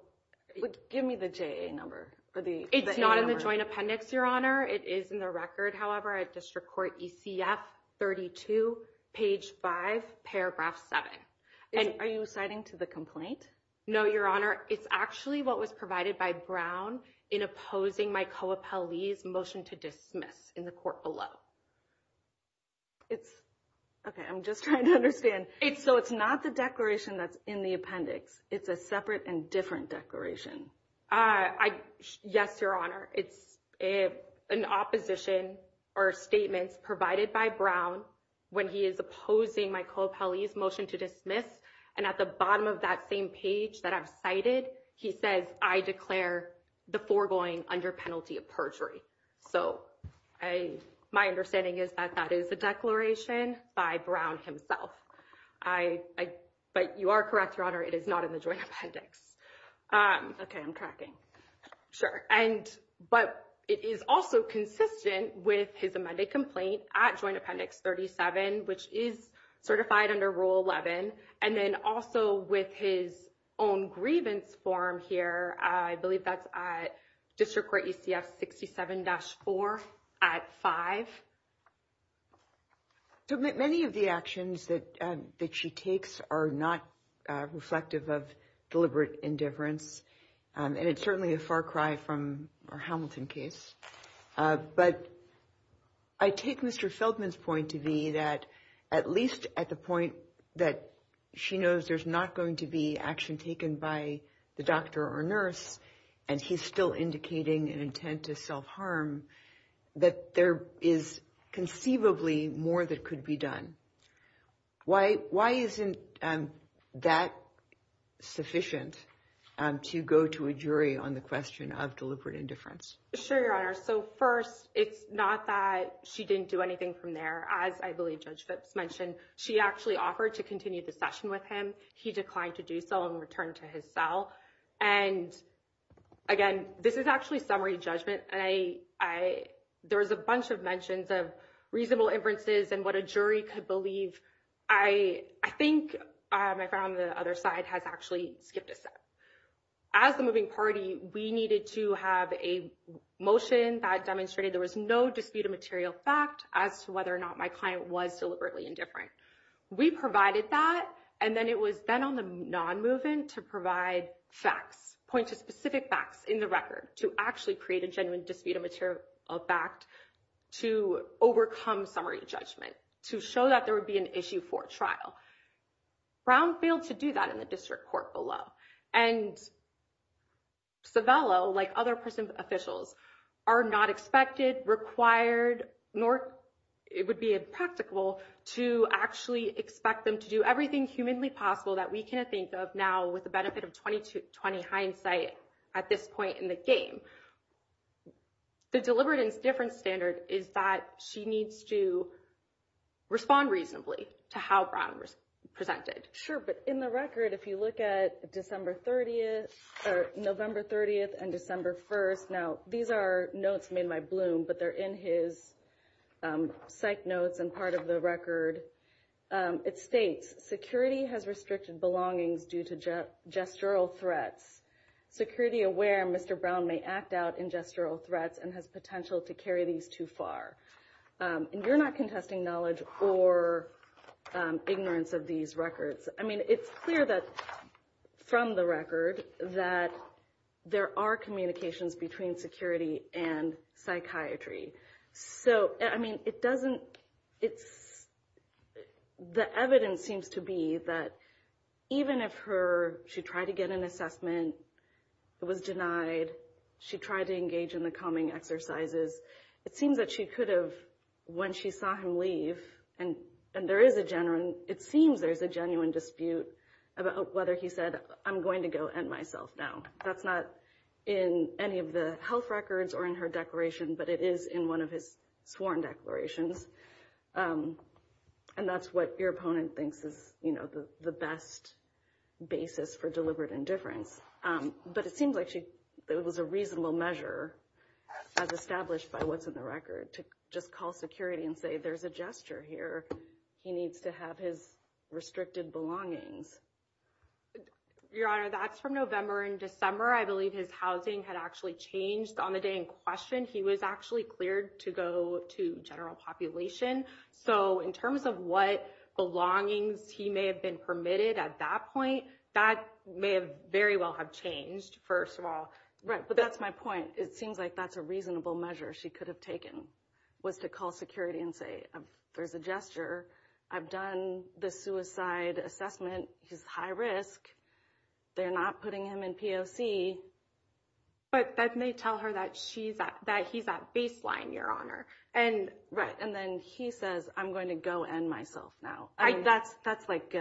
give me the JA number. It's not in the joint appendix, Your Honor. It is in the record. However, at District Court ECF 32, page 5, paragraph 7. Are you citing to the complaint? No, Your Honor. It's actually what was provided by Brown in opposing my co-appellee's motion to dismiss in the court below. Okay. I'm just trying to understand. So it's not the declaration that's in the appendix. It's a separate and different declaration. Yes, Your Honor. It's an opposition or statement provided by Brown when he is opposing my co-appellee's motion to dismiss. And at the bottom of that same page that I've cited, he says, I declare the foregoing under penalty of perjury. So my understanding is that that is a declaration by Brown himself. But you are correct, Your Honor, it is not in the joint appendix. Okay. I'm cracking. Sure. And but it is also consistent with his amended complaint at joint appendix 37, which is certified under Rule 11. And then also with his own grievance form here, I believe that's at District Court ECF 67-4 at 5. So many of the actions that she takes are not reflective of deliberate indifference. And it's certainly a far cry from our Hamilton case. But I take Mr. Feldman's point to be that at least at the point that she knows there's not going to be action taken by the doctor or nurse, and he's still indicating an intent to self-harm, that there is conceivably more that could be done. Why isn't that sufficient to go to a jury on the question of deliberate indifference? Sure, Your Honor. So first, it's not that she didn't do anything from there. As I believe Judge Fitz mentioned, she actually offered to continue the session with him. He declined to do so and turned to his cell. And again, this is actually summary judgment. There's a bunch of mentions of reasonable inferences and what a jury could believe. I think my friend on the other side has actually skipped a step. As a moving party, we needed to have a motion that demonstrated there was no dispute of material fact as to whether or not my client was deliberately indifferent. We provided that, and then it was then on the non-moving to provide facts, point to specific facts in the record to actually create a genuine dispute of material fact to overcome summary judgment, to show that there would be an issue for trial. Brown failed to do that in the district court below. And Civello, like other persons officials, are not expected, required, nor it would be impractical to actually expect them to do everything humanly possible that we can think of now with the benefit of 20-20 hindsight at this point in the game. The deliberate indifference standard is that she needs to respond reasonably to how Brown presented. Sure, but in the record, if you look at December 30th or November 30th and December 1st, now, these are notes made by Bloom, but they're in his psych notes and part of the record. It states, security has restricted belongings due to gestural threats. Security aware, Mr. Brown may act out in gestural threats and has potential to carry these too far. And you're not contesting knowledge or ignorance of these records. I mean, it's clear that from the record that there are communications between security and psychiatry. So, I mean, it doesn't, it's, the evidence seems to be that even if her, she tried to get an assessment, was denied, she tried to engage in the calming exercises, it seems that she could have, when she saw him leave, and there is a genuine, it seems there's a genuine dispute about whether he said, I'm going to go end myself now. That's not in any of the health records or in her declaration, but it is in one of his sworn declarations. And that's what your opponent thinks is the best basis for deliberate indifference. But it seems like she, it was a reasonable measure as established by what's in the record to just call security and say, there's a gesture here. He needs to have his restricted belongings. Your Honor, that's from November and December. I believe his housing had actually changed on the day in question. He was actually cleared to go to general population. So, in terms of what belongings he may have been permitted at that point, that may have very well have changed, first of all. Right. But that's my point. It seems like that's a reasonable measure she could have taken, was to call security and say, there's a gesture. I've done the suicide assessment. He's high risk. They're not putting him in POC. But that may tell her that he's at baseline, Your Honor. And then he says, I'm going to go end myself now. That's like,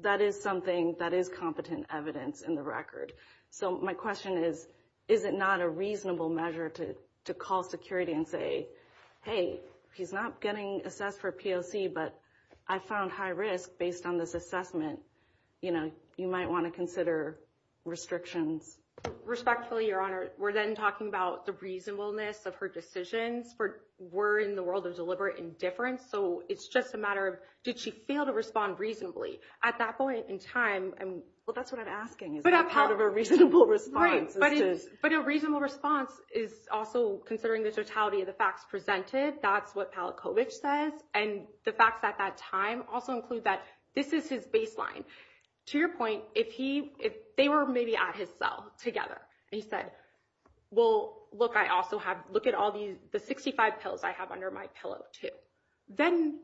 that is something that is competent evidence in the record. So, my question is, is it not a reasonable measure to call security and say, hey, he's not getting assessed for POC, but I found high risk based on this assessment. You might want to consider restrictions. Respectfully, Your Honor, we're then talking about the reasonableness of her decision. We're in the world of deliberate indifference. So, it's just a matter of, did she fail to respond reasonably at that point in time? Well, that's what I'm asking. Is that part of a reasonable response? Right. But a reasonable response is also considering the totality of the facts presented. That's what Palachowicz says. And the facts at that time also include that this is his baseline. To your point, if they were maybe at his cell together and he said, well, look, I also have, look at all these, the 65 pills I have under my pillow too. Then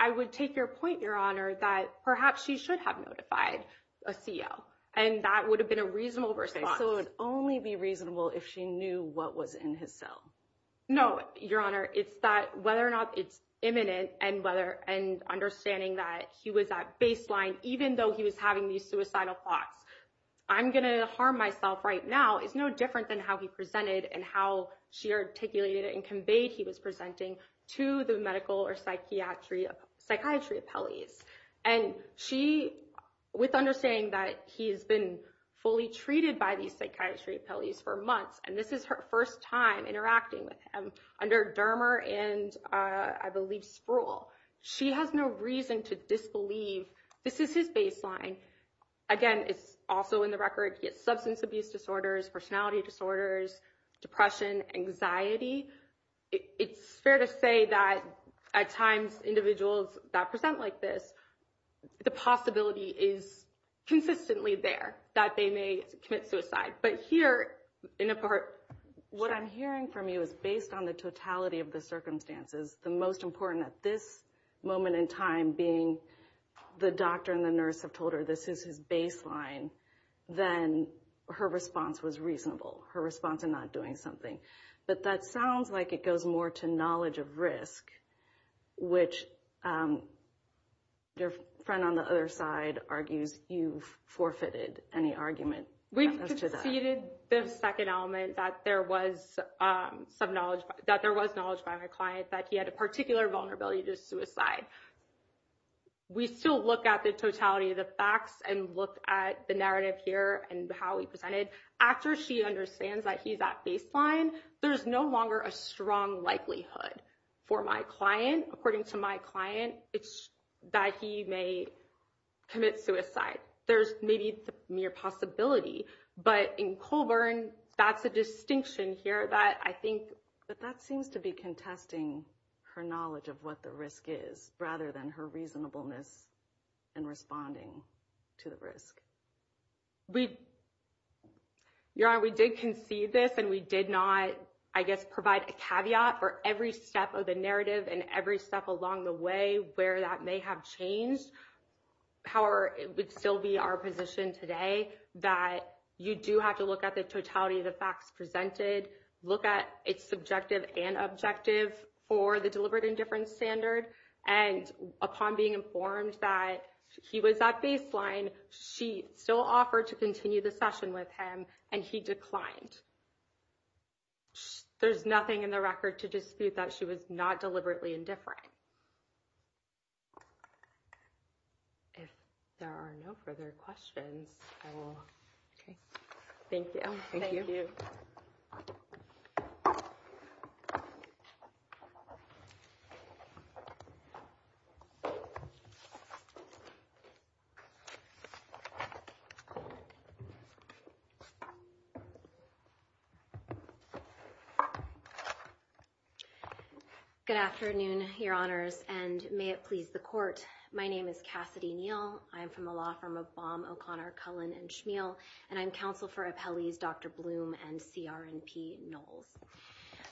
I would take your point, Your Honor, that perhaps she should have notified a CO. And that would have been a reasonable response. It would only be reasonable if she knew what was in his cell. No, Your Honor. It's that whether or not it's imminent and understanding that he was at baseline, even though he was having these suicidal thoughts, I'm going to harm myself right now. It's no different than how he presented and how she articulated and conveyed he was presenting to the medical or psychiatry appellees. And she, with understanding that he has been fully treated by these psychiatry appellees for months, and this is her first time interacting with him under Dermer and, I believe, Spruill, she has no reason to disbelieve this is his baseline. Again, it's also in the records. He has substance abuse disorders, personality disorders, depression, anxiety. It's fair to say that at times individuals that present like this, the possibility is consistently there that they may commit suicide. But here, in a part, what I'm hearing from you is based on the totality of the circumstances, the most important at this moment in time being the doctor and the nurse have told her this is his baseline, then her response was reasonable. Her response to not doing something. But that sounds like it goes more to knowledge of risk, which your friend on the other side argues you forfeited any argument. We succeeded the second element that there was knowledge by my client that he had a particular vulnerability to suicide. We still look at the totality of the facts and look at the narrative here and how he presented. After she understands that he's at baseline, there's no longer a strong likelihood for my client, according to my client, that he may commit suicide. There's maybe mere possibility. But in Colburn, that's a distinction here that I think that that seems to be contesting her knowledge of what the risk is rather than her reasonableness in responding to the risk. We did concede this and we did not, I guess, provide a caveat for every step of the narrative and every step along the way where that may have changed. However, it would still be our position today that you do have to look at the totality of the facts presented, look at its subjective and objective for the deliberate indifference standard. And upon being informed that he was at baseline, she still offered to continue the session with him and he declined. There's nothing in the record to dispute that she was not deliberately indifferent. If there are no further questions, I will. Okay. Thank you. Thank you. Good afternoon, Your Honors, and may it please the court. My name is Cassidy Neal. I'm from the law firm of Baum, O'Connor, Cullen, and Schneel, and I'm counsel for appellees Dr. Bloom and CR&P Knowles.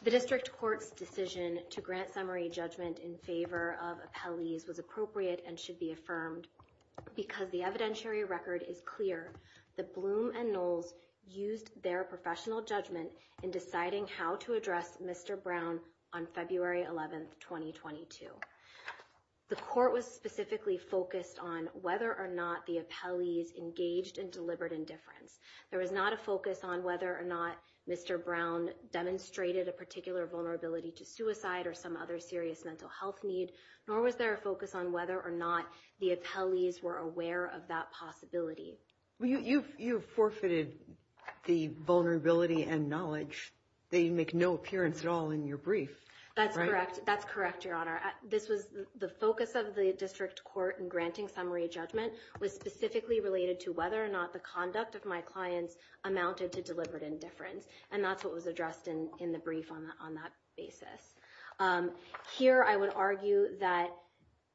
The district court's decision to grant summary judgment in favor of appellees was appropriate and should be affirmed because the evidentiary record is clear that Bloom and Knowles used their professional judgment in deciding how to address Mr. Brown on February 11th, 2022. The court was specifically focused on whether or not the appellees engaged in deliberate indifference. There was not a focus on whether or not Mr. Brown demonstrated a particular vulnerability to suicide or some other serious mental health needs, nor was there a focus on or not the appellees were aware of that possibility. You've forfeited the vulnerability and knowledge. They make no appearance at all in your brief. That's correct. That's correct, Your Honor. The focus of the district court in granting summary judgment was specifically related to whether or not the conduct of my clients amounted to deliberate indifference, and that's what was addressed in the brief on that basis. Here, I would argue that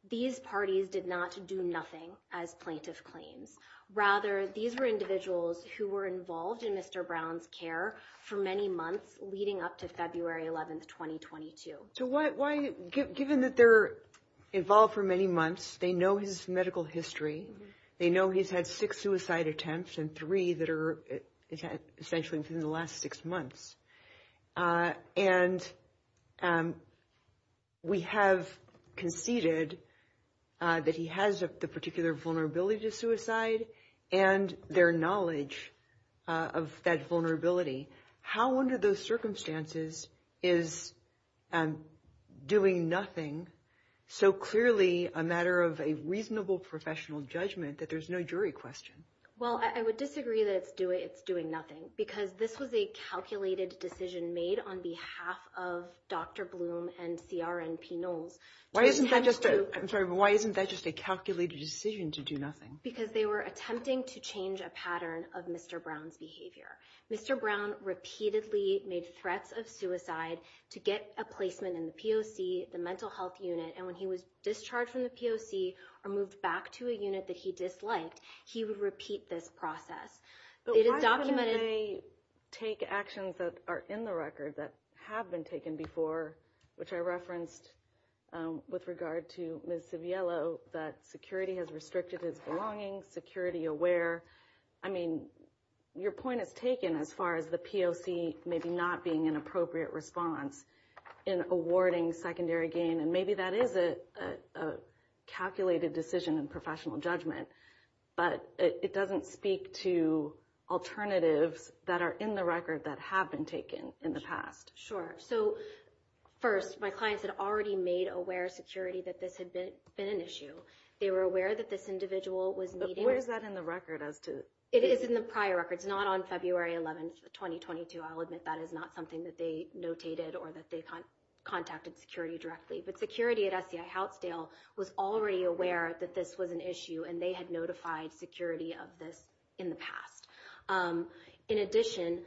these parties did not do nothing as plaintiffs claim. Rather, these were individuals who were involved in Mr. Brown's care for many months leading up to February 11th, 2022. Given that they're involved for many months, they know his medical history. They know he's had six suicide attempts and three that are essentially in the last six months. And we have conceded that he has the particular vulnerability to suicide and their knowledge of that vulnerability. How, under those circumstances, is doing nothing so clearly a matter of a reasonable professional judgment that there's no jury question? Well, I would disagree that it's doing nothing because this was a calculated decision made on behalf of Dr. Bloom and CRNP Nome. Why isn't that just a calculated decision to do nothing? Because they were attempting to change a pattern of Mr. Brown's behavior. Mr. Brown repeatedly made threats of suicide to get a placement in the POC, the mental health unit, and when he was discharged from the POC or moved back to a unit that he disliked, he would repeat this process. But why can't they take actions that are in the record that have been taken before, which I referenced with regard to Ms. Saviello, that security has restricted his belonging, security aware? I mean, your point is taken as far as the POC maybe not being an appropriate response in awarding secondary gain, and maybe that is a calculated decision in professional judgment, but it doesn't speak to alternatives that are in the record that have been taken in the past. Sure. So, first, my clients had already made aware of security that this had been an issue. They were aware that this individual was meeting... But where is that in the record as to... It is in the prior record. It's not on February 11th, 2022. I'll admit that is not something that they notated or that they contacted security directly, but security at FBI Housetail was already aware that this was an issue and they had notified security of this in the past. In addition,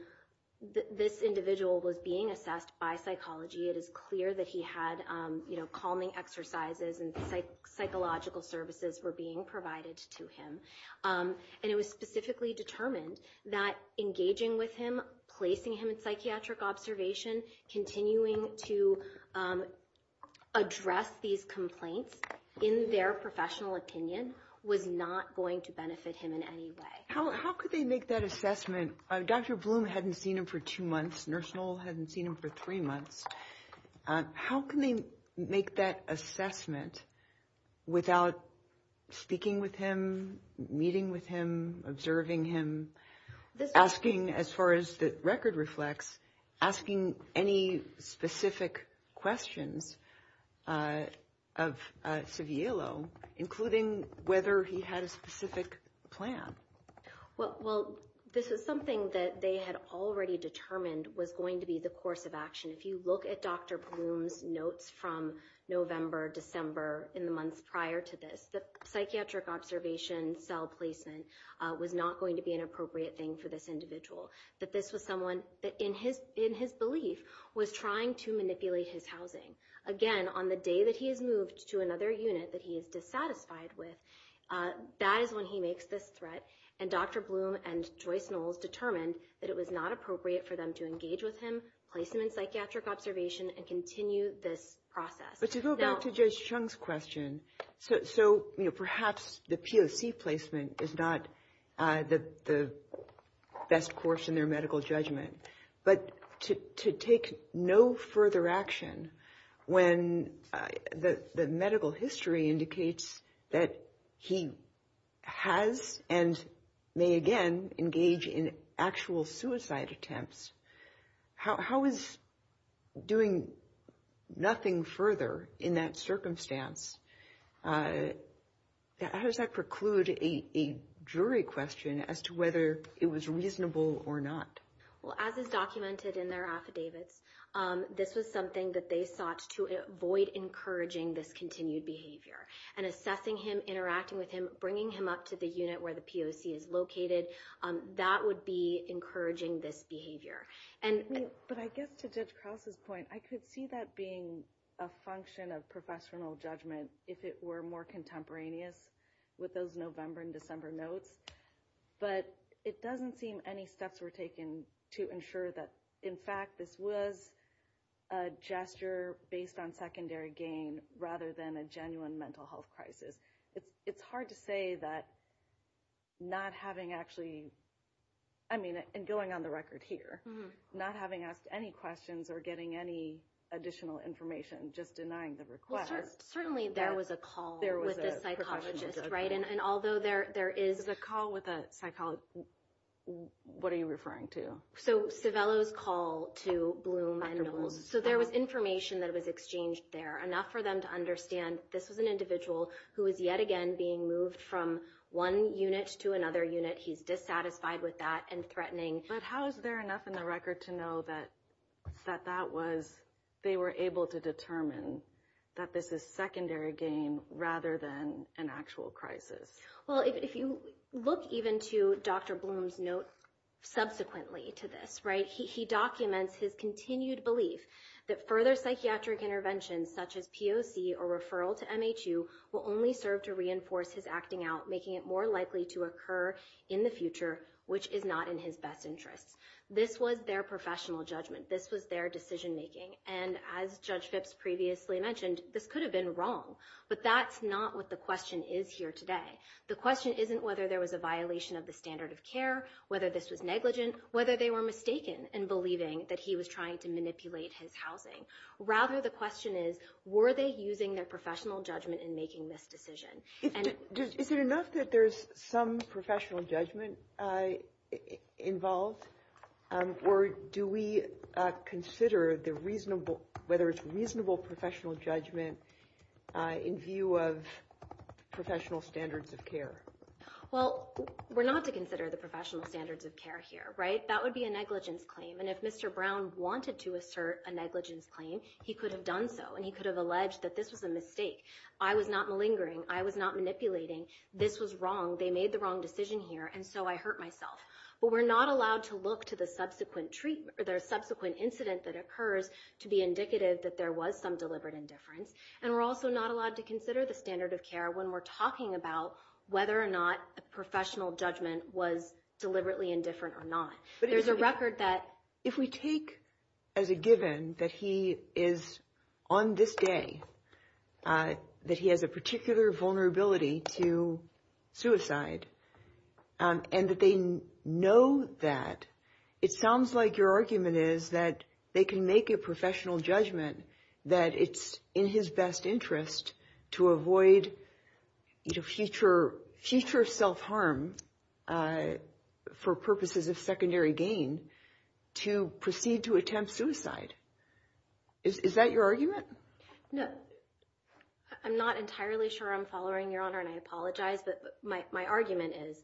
this individual was being assessed by psychology. It is clear that he had calming exercises and psychological services were being provided to him, and it was specifically determined that engaging with him, placing him in psychiatric observation, continuing to address these complaints in their professional opinion was not going to benefit him in any way. How could they make that assessment? Dr. Bloom hadn't seen him for two months. Nurse Noel hadn't seen him for three months. How can they make that assessment without speaking with him, meeting with him, observing him, asking, as far as the record reflects, asking any specific questions of Saviello, including whether he had a specific plan? Well, this is something that they had already determined was going to be the course of action. If you look at Dr. Bloom's notes from November, December, in the months prior to this, the psychiatric observation cell placement was not going to be an appropriate thing for this individual, that this was someone that, in his belief, was trying to manipulate his housing. Again, on the day that he is moved to another unit that he is dissatisfied with, that is when he makes this threat, and Dr. Bloom and Joyce Noel determined that it was not appropriate for them to engage with him, place him in psychiatric observation, and continue this process. But to go back to Judge Chung's question, so perhaps the POC placement is not the best course in their medical judgment, but to take no further action when the medical history indicates that he has and may again engage in actual suicide attempts, how is doing nothing further in that circumstance, how does that preclude a jury question as to whether it was reasonable or not? Well, as is documented in their affidavits, this was something that they thought to avoid encouraging this continued behavior, and assessing him, interacting with him, bringing him up to the unit where the POC is located, that would be encouraging this behavior. But I guess to Judge Krause's point, I could see that being a function of professional judgment if it were more contemporaneous with those November and December notes, but it doesn't seem any steps were taken to ensure that, in fact, this was a gesture based on secondary gain rather than a genuine mental health crisis. It's hard to say that not having actually, I mean, and going on the record here, not having asked any questions or getting any additional information, just denying the request. Certainly there was a call with the psychologist, right? And although there is a call with a psychologist, what are you referring to? So Civello's call to Bloom. So there was information that was exchanged there, enough for them to understand this is an individual who is yet again being moved from one unit to another unit. He's dissatisfied with that and threatening. But how is there enough in the record to know that that was, they were able to determine that this is secondary gain rather than an actual crisis? Well, if you look even to Dr. Bloom's notes subsequently to this, right, he documents his continued belief that further psychiatric interventions such as POC or referral to MHU will only serve to reinforce his acting out, making it more likely to occur in the future, which is not in his best interest. This was their professional judgment. This was their decision making. And as Judge Phipps previously mentioned, this could have been wrong. But that's not what the question is here today. The question isn't whether there was a violation of the standard of care, whether this was negligent, whether they were mistaken in believing that he was trying to manipulate his housing. Rather, the question is, were they using their professional judgment in making this decision? Is it enough that there's some professional judgment involved? Or do we consider the reasonable, whether it's reasonable professional judgment in view of professional standards of care? Well, we're not to consider the professional standards of care here, right? That would be a negligence claim. And if Mr. Brown wanted to assert a negligence claim, he could have done so. And he could have alleged that this was a mistake. I was not malingering. I was not manipulating. This was wrong. They made the wrong decision here, and so I hurt myself. But we're not allowed to look to the subsequent treatment, or the subsequent incident that occurs to be indicative that there was some deliberate indifference. And we're also not allowed to consider the standard of care when we're talking about whether or not the professional judgment was deliberately indifferent or not. There's a record that... If we take as a given that he is on this day, that he has a particular vulnerability to suicide, and that they know that, it sounds like your argument is that they can make a professional judgment that it's in his best interest to avoid future self-harm for purposes of secondary gain to proceed to attempt suicide. Is that your argument? No. I'm not entirely sure I'm following, Your Honor, and I apologize. But my argument is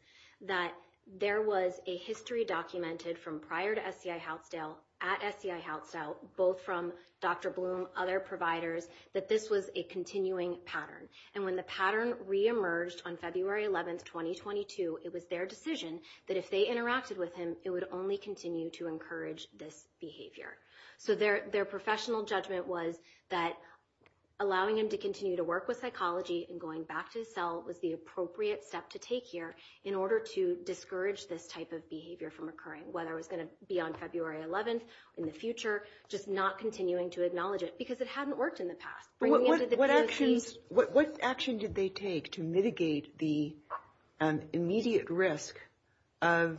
that there was a history documented from prior to SDI Housetail, at SDI Housetail, both from Dr. Bloom, other providers, that this was a continuing pattern. And when the pattern reemerged on February 11, 2022, it was their decision that if they interacted with him, it would only continue to encourage this behavior. So their professional judgment was that allowing him to continue to work with psychology and going back to his cell was the appropriate step to take here in order to discourage this type of behavior from occurring, whether it's going to be on February 11 in the future, just not continuing to acknowledge it, because it hadn't worked in the past. What actions did they take to mitigate the immediate risk of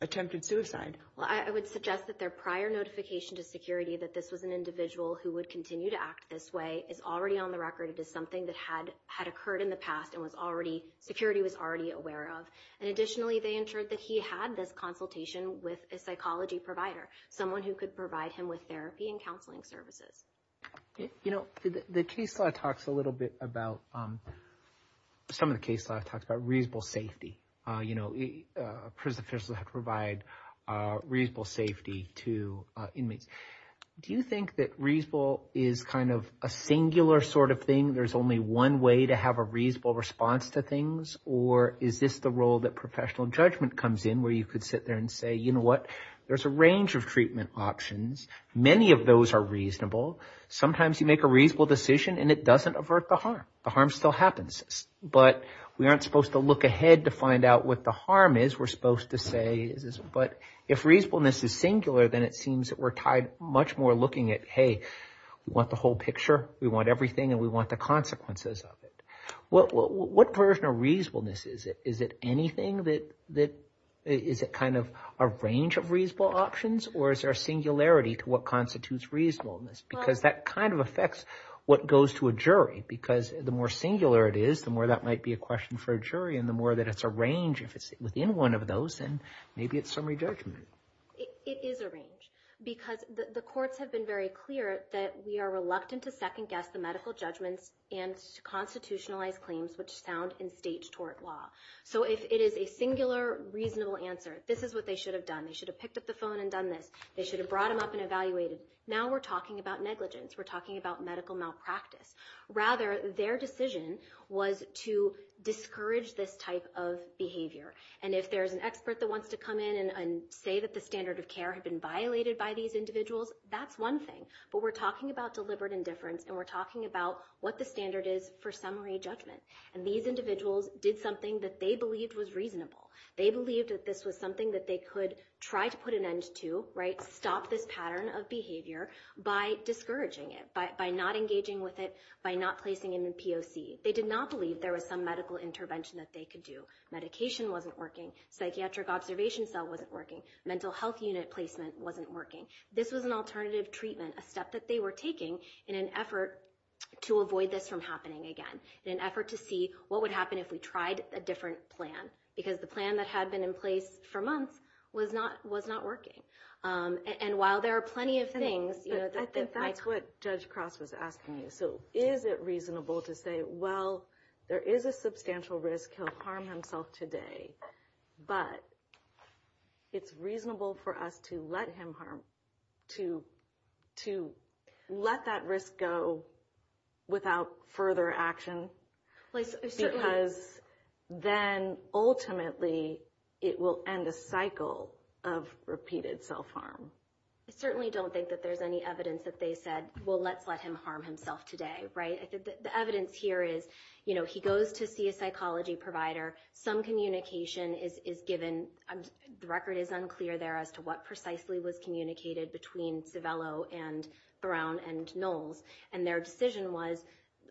attempted suicide? Well, I would suggest that their prior notification to security that this was an individual who would continue to act this way is already on the record. It is something that had occurred in the past and was already, security was already aware of. And additionally, they ensured that he had this consultation with a psychology provider, someone who could provide him with therapy and counseling services. You know, the case law talks a little bit about, some of the case law talks about reasonable safety. You know, prison officials have to provide reasonable safety to inmates. Do you think that reasonable is kind of a singular sort of thing? There's only one way to have a reasonable response to things? Or is this the role that professional judgment comes in where you could sit there and say, you know what, there's a range of treatment options. Many of those are reasonable. Sometimes you make a reasonable decision and it doesn't avert the harm. The harm still happens. But we aren't supposed to look ahead to find out what the harm is. We're supposed to say, but if reasonableness is singular, then it seems that we're tied much more looking at, hey, we want the whole picture. We want everything and we want the consequences of it. What version of reasonableness is it? Is it anything that, is it kind of a range of reasonable options or is there singularity to what constitutes reasonableness? Because that kind of affects what goes to a jury because the more singular it is, the more that might be a question for a jury and the more that it's a range if it's within one of those, then maybe it's summary judgment. It is a range because the courts have been very clear that we are reluctant to second guess the medical judgment and to constitutionalize claims which found in state tort law. So if it is a singular reasonable answer, this is what they should have done. They should have picked up the phone and done this. They should have brought them up and evaluated. Now we're talking about negligence. We're talking about medical malpractice. Rather, their decision was to discourage this type of behavior. And if there's an expert that wants to come in and say that the standard of care had been violated by these individuals, that's one thing. But we're talking about deliberate indifference and we're talking about what the standard is for summary judgment. And these individuals did something that they believed was reasonable. They believed that this was something that they could try to put an end to, right, stop this pattern of behavior by discouraging it, by not engaging with it, by not placing in the POC. They did not believe there was some medical intervention that they could do. Medication wasn't working. Psychiatric observation cell wasn't working. Mental health unit placement wasn't working. This was an alternative treatment, a step that they were taking in an effort to avoid this from happening again, in an effort to see what would happen if we tried a different plan. Because the plan that had been in place for months was not working. And while there are plenty of things... And that's what Judge Cross was asking you. So is it reasonable to say, well, there is a substantial risk to harm himself today, but it's reasonable for us to let him harm, to let that risk go without further action? Because then ultimately it will end a cycle of repeated self-harm. I certainly don't think that there's any evidence that they said, well, let's let him harm himself today, right? I think the evidence here is, you know, he goes to see a psychology provider. Some communication is given. The record is unclear there as to what was communicated between Civello and Brown and Knowles. And their decision was,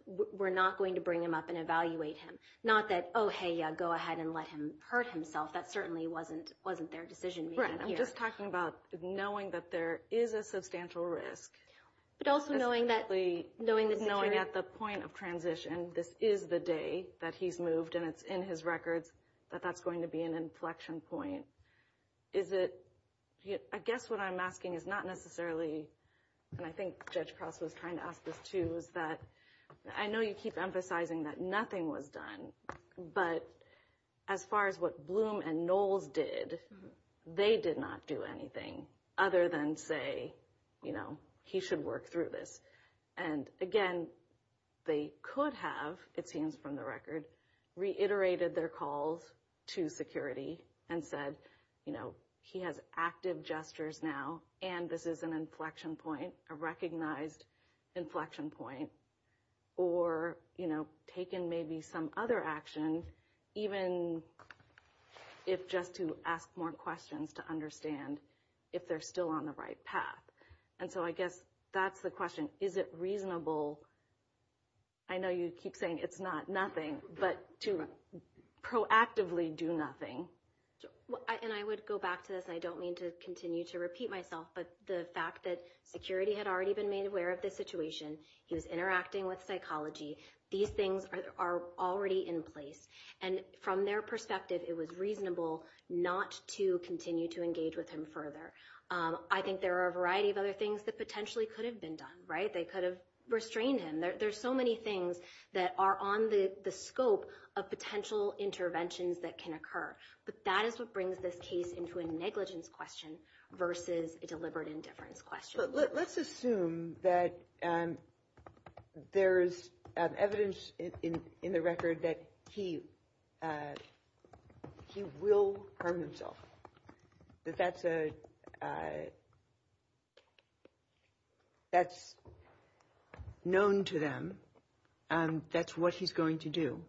we're not going to bring him up and evaluate him. Not that, oh, hey, yeah, go ahead and let him hurt himself. That certainly wasn't their decision. Right. I'm just talking about knowing that there is a substantial risk. But also knowing that... Knowing at the point of transition, this is the day that he's moved and it's in his records, that that's going to be an inflection point. Is it, I guess what I'm asking is not necessarily, and I think Judge Krause was trying to ask this too, is that I know you keep emphasizing that nothing was done, but as far as what Bloom and Knowles did, they did not do anything other than say, you know, he should work through this. And again, they could have, it seems from the record, reiterated their calls to security and said, you know, he has active gestures now, and this is an inflection point, a recognized inflection point, or, you know, taken maybe some other actions, even if just to ask more questions to understand if they're still on the right path. And so I guess that's the question. Is it reasonable? I know you keep saying it's not nothing, but to proactively do nothing. And I would go back to this. I don't mean to continue to repeat myself, but the fact that security had already been made aware of the situation. He was interacting with psychology. These things are already in place. And from their perspective, it was reasonable not to continue to engage with him further. I think there are a variety of other things that potentially could have been done, right? They could have restrained him. There's so many things that are on the scope of potential interventions that can occur. But that is what brings this case into a negligence question versus a deliberate indifference question. Let's assume that there's evidence in the record that he will harm himself, that that's a that's known to them, and that's what he's going to do.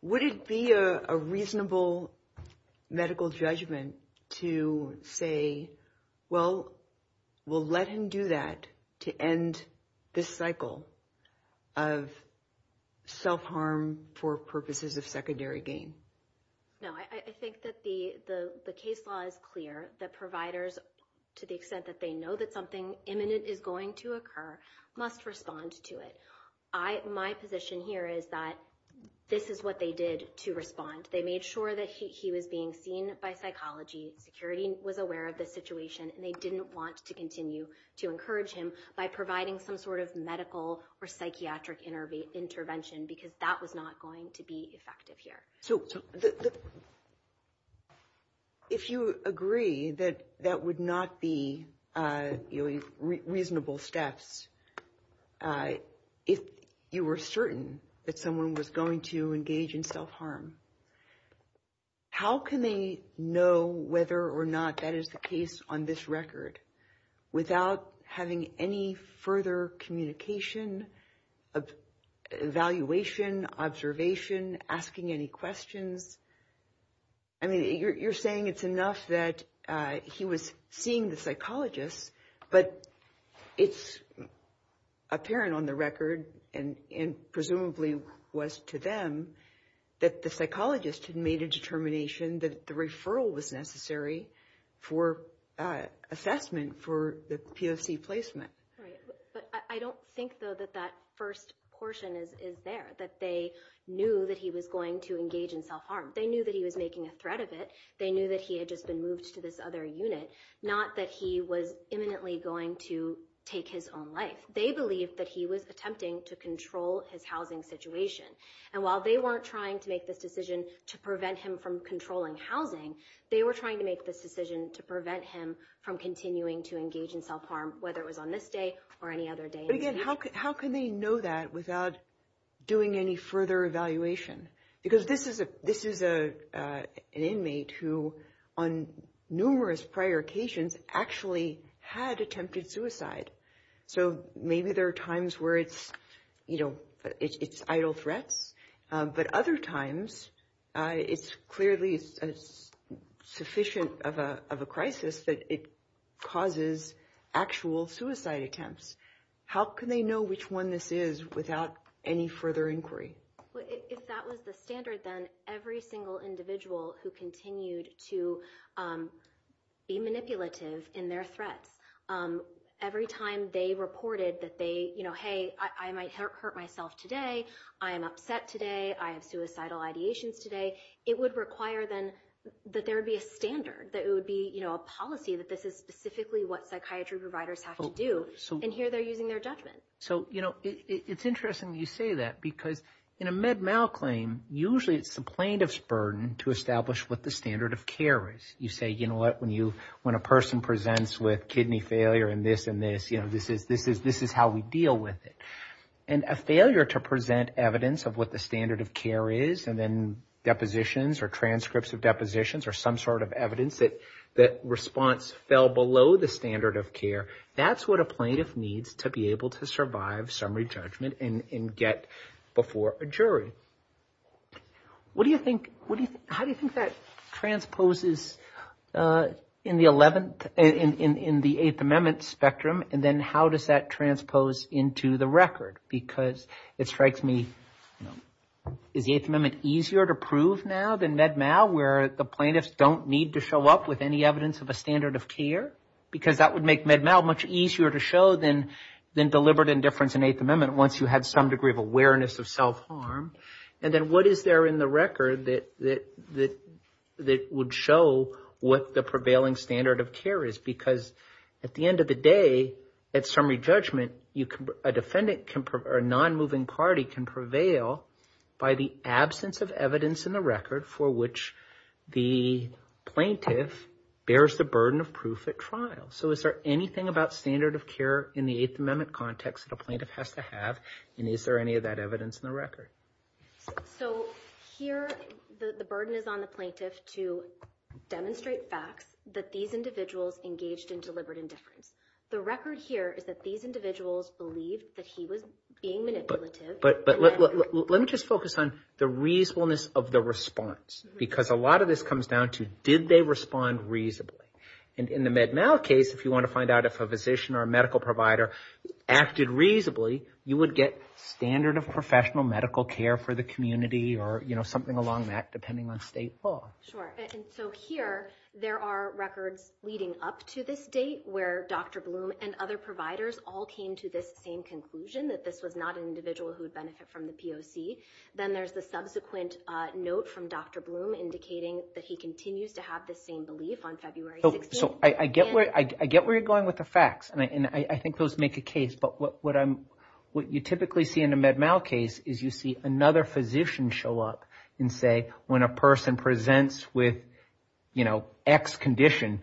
Would it be a reasonable medical judgment to say, well, we'll let him do that to end this cycle of self-harm for purposes of secondary gain? No, I think that the case law is clear that providers, to the extent that they know that imminent is going to occur, must respond to it. My position here is that this is what they did to respond. They made sure that he was being seen by psychology, security was aware of the situation, and they didn't want to continue to encourage him by providing some sort of medical or psychiatric intervention, because that was not going to be effective here. So if you agree that that would not be reasonable steps, if you were certain that someone was going to engage in self-harm, how can they know whether or not that is the case on this record without having any further communication, evaluation, observation, asking any questions? I mean, you're saying it's enough that he was seeing the psychologist, but it's apparent on the record, and presumably was to them, that the psychologist had made a determination that the referral was necessary for assessment for the POC placement. But I don't think, though, that that first portion is there, that they knew that he was going to engage in self-harm. They knew that he was making a threat of it. They knew that he had just been moved to this other unit, not that he was imminently going to take his own life. They believed that he was attempting to control his housing situation, and while they weren't trying to make this decision to prevent him from controlling housing, they were trying to make this decision to prevent him from continuing to engage in self-harm, whether it was on this day or any other day. But again, how can they know that without doing any further evaluation? Because this is an inmate who, on numerous prior occasions, actually had attempted suicide. So maybe there are times where it's, you know, it's idle threat, but other times, it's clearly sufficient of a crisis that it causes actual suicide attempts. How can they know which one this is without any further inquiry? If that was the standard, then every individual who continued to be manipulative in their threat, every time they reported that they, you know, hey, I might hurt myself today, I am upset today, I have suicidal ideations today, it would require then that there would be a standard, that it would be, you know, a policy that this is specifically what psychiatry providers have to do, and here they're using their judgment. So, you know, it's interesting you say that, because in a Med-Mal claim, usually it's the plaintiff's burden to establish what the standard of care is. You say, you know what, when a person presents with kidney failure and this and this, you know, this is how we deal with it. And a failure to present evidence of what the standard of care is, and then depositions or transcripts of depositions or some sort of evidence that response fell below the standard of care, that's what a plaintiff needs to be able to survive summary judgment and get before a jury. What do you think, what do you, how do you think that transposes in the 11th, in the 8th Amendment spectrum, and then how does that transpose into the record? Because it strikes me, you know, is the 8th Amendment easier to prove now than Med-Mal, where the plaintiffs don't need to show up with any evidence of a standard of care? Because that would make Med-Mal much easier to show than deliberate indifference in the 8th Amendment, once you had some degree of awareness of self-harm. And then what is there in the record that would show what the prevailing standard of care is? Because at the end of the day, at summary judgment, you can, a defendant can, or a non-moving party can prevail by the absence of evidence in the record for which the plaintiff bears the burden of proof at trial. So is there anything about standard of care in the 8th Amendment context that a plaintiff has to have, and is there any of that evidence in the record? So here, the burden is on the plaintiff to demonstrate facts that these individuals engaged in deliberate indifference. The record here is that these individuals believed that he was being manipulative. But let me just focus on the reasonableness of the response, because a lot of this comes down to, did they respond reasonably? And in the Med-Mal case, if you want to find out if a physician or a medical provider acted reasonably, you would get standard of professional medical care for the community, or something along that, depending on state law. Sure. And so here, there are records leading up to this date where Dr. Bloom and other providers all came to this same conclusion, that this was not an individual who would benefit from the POC. Then there's the subsequent note from Dr. Bloom indicating that he continues to have this same belief on February 16th. So I get where you're at with the facts, and I think those make a case. But what you typically see in a Med-Mal case is you see another physician show up and say, when a person presents with, you know, X condition,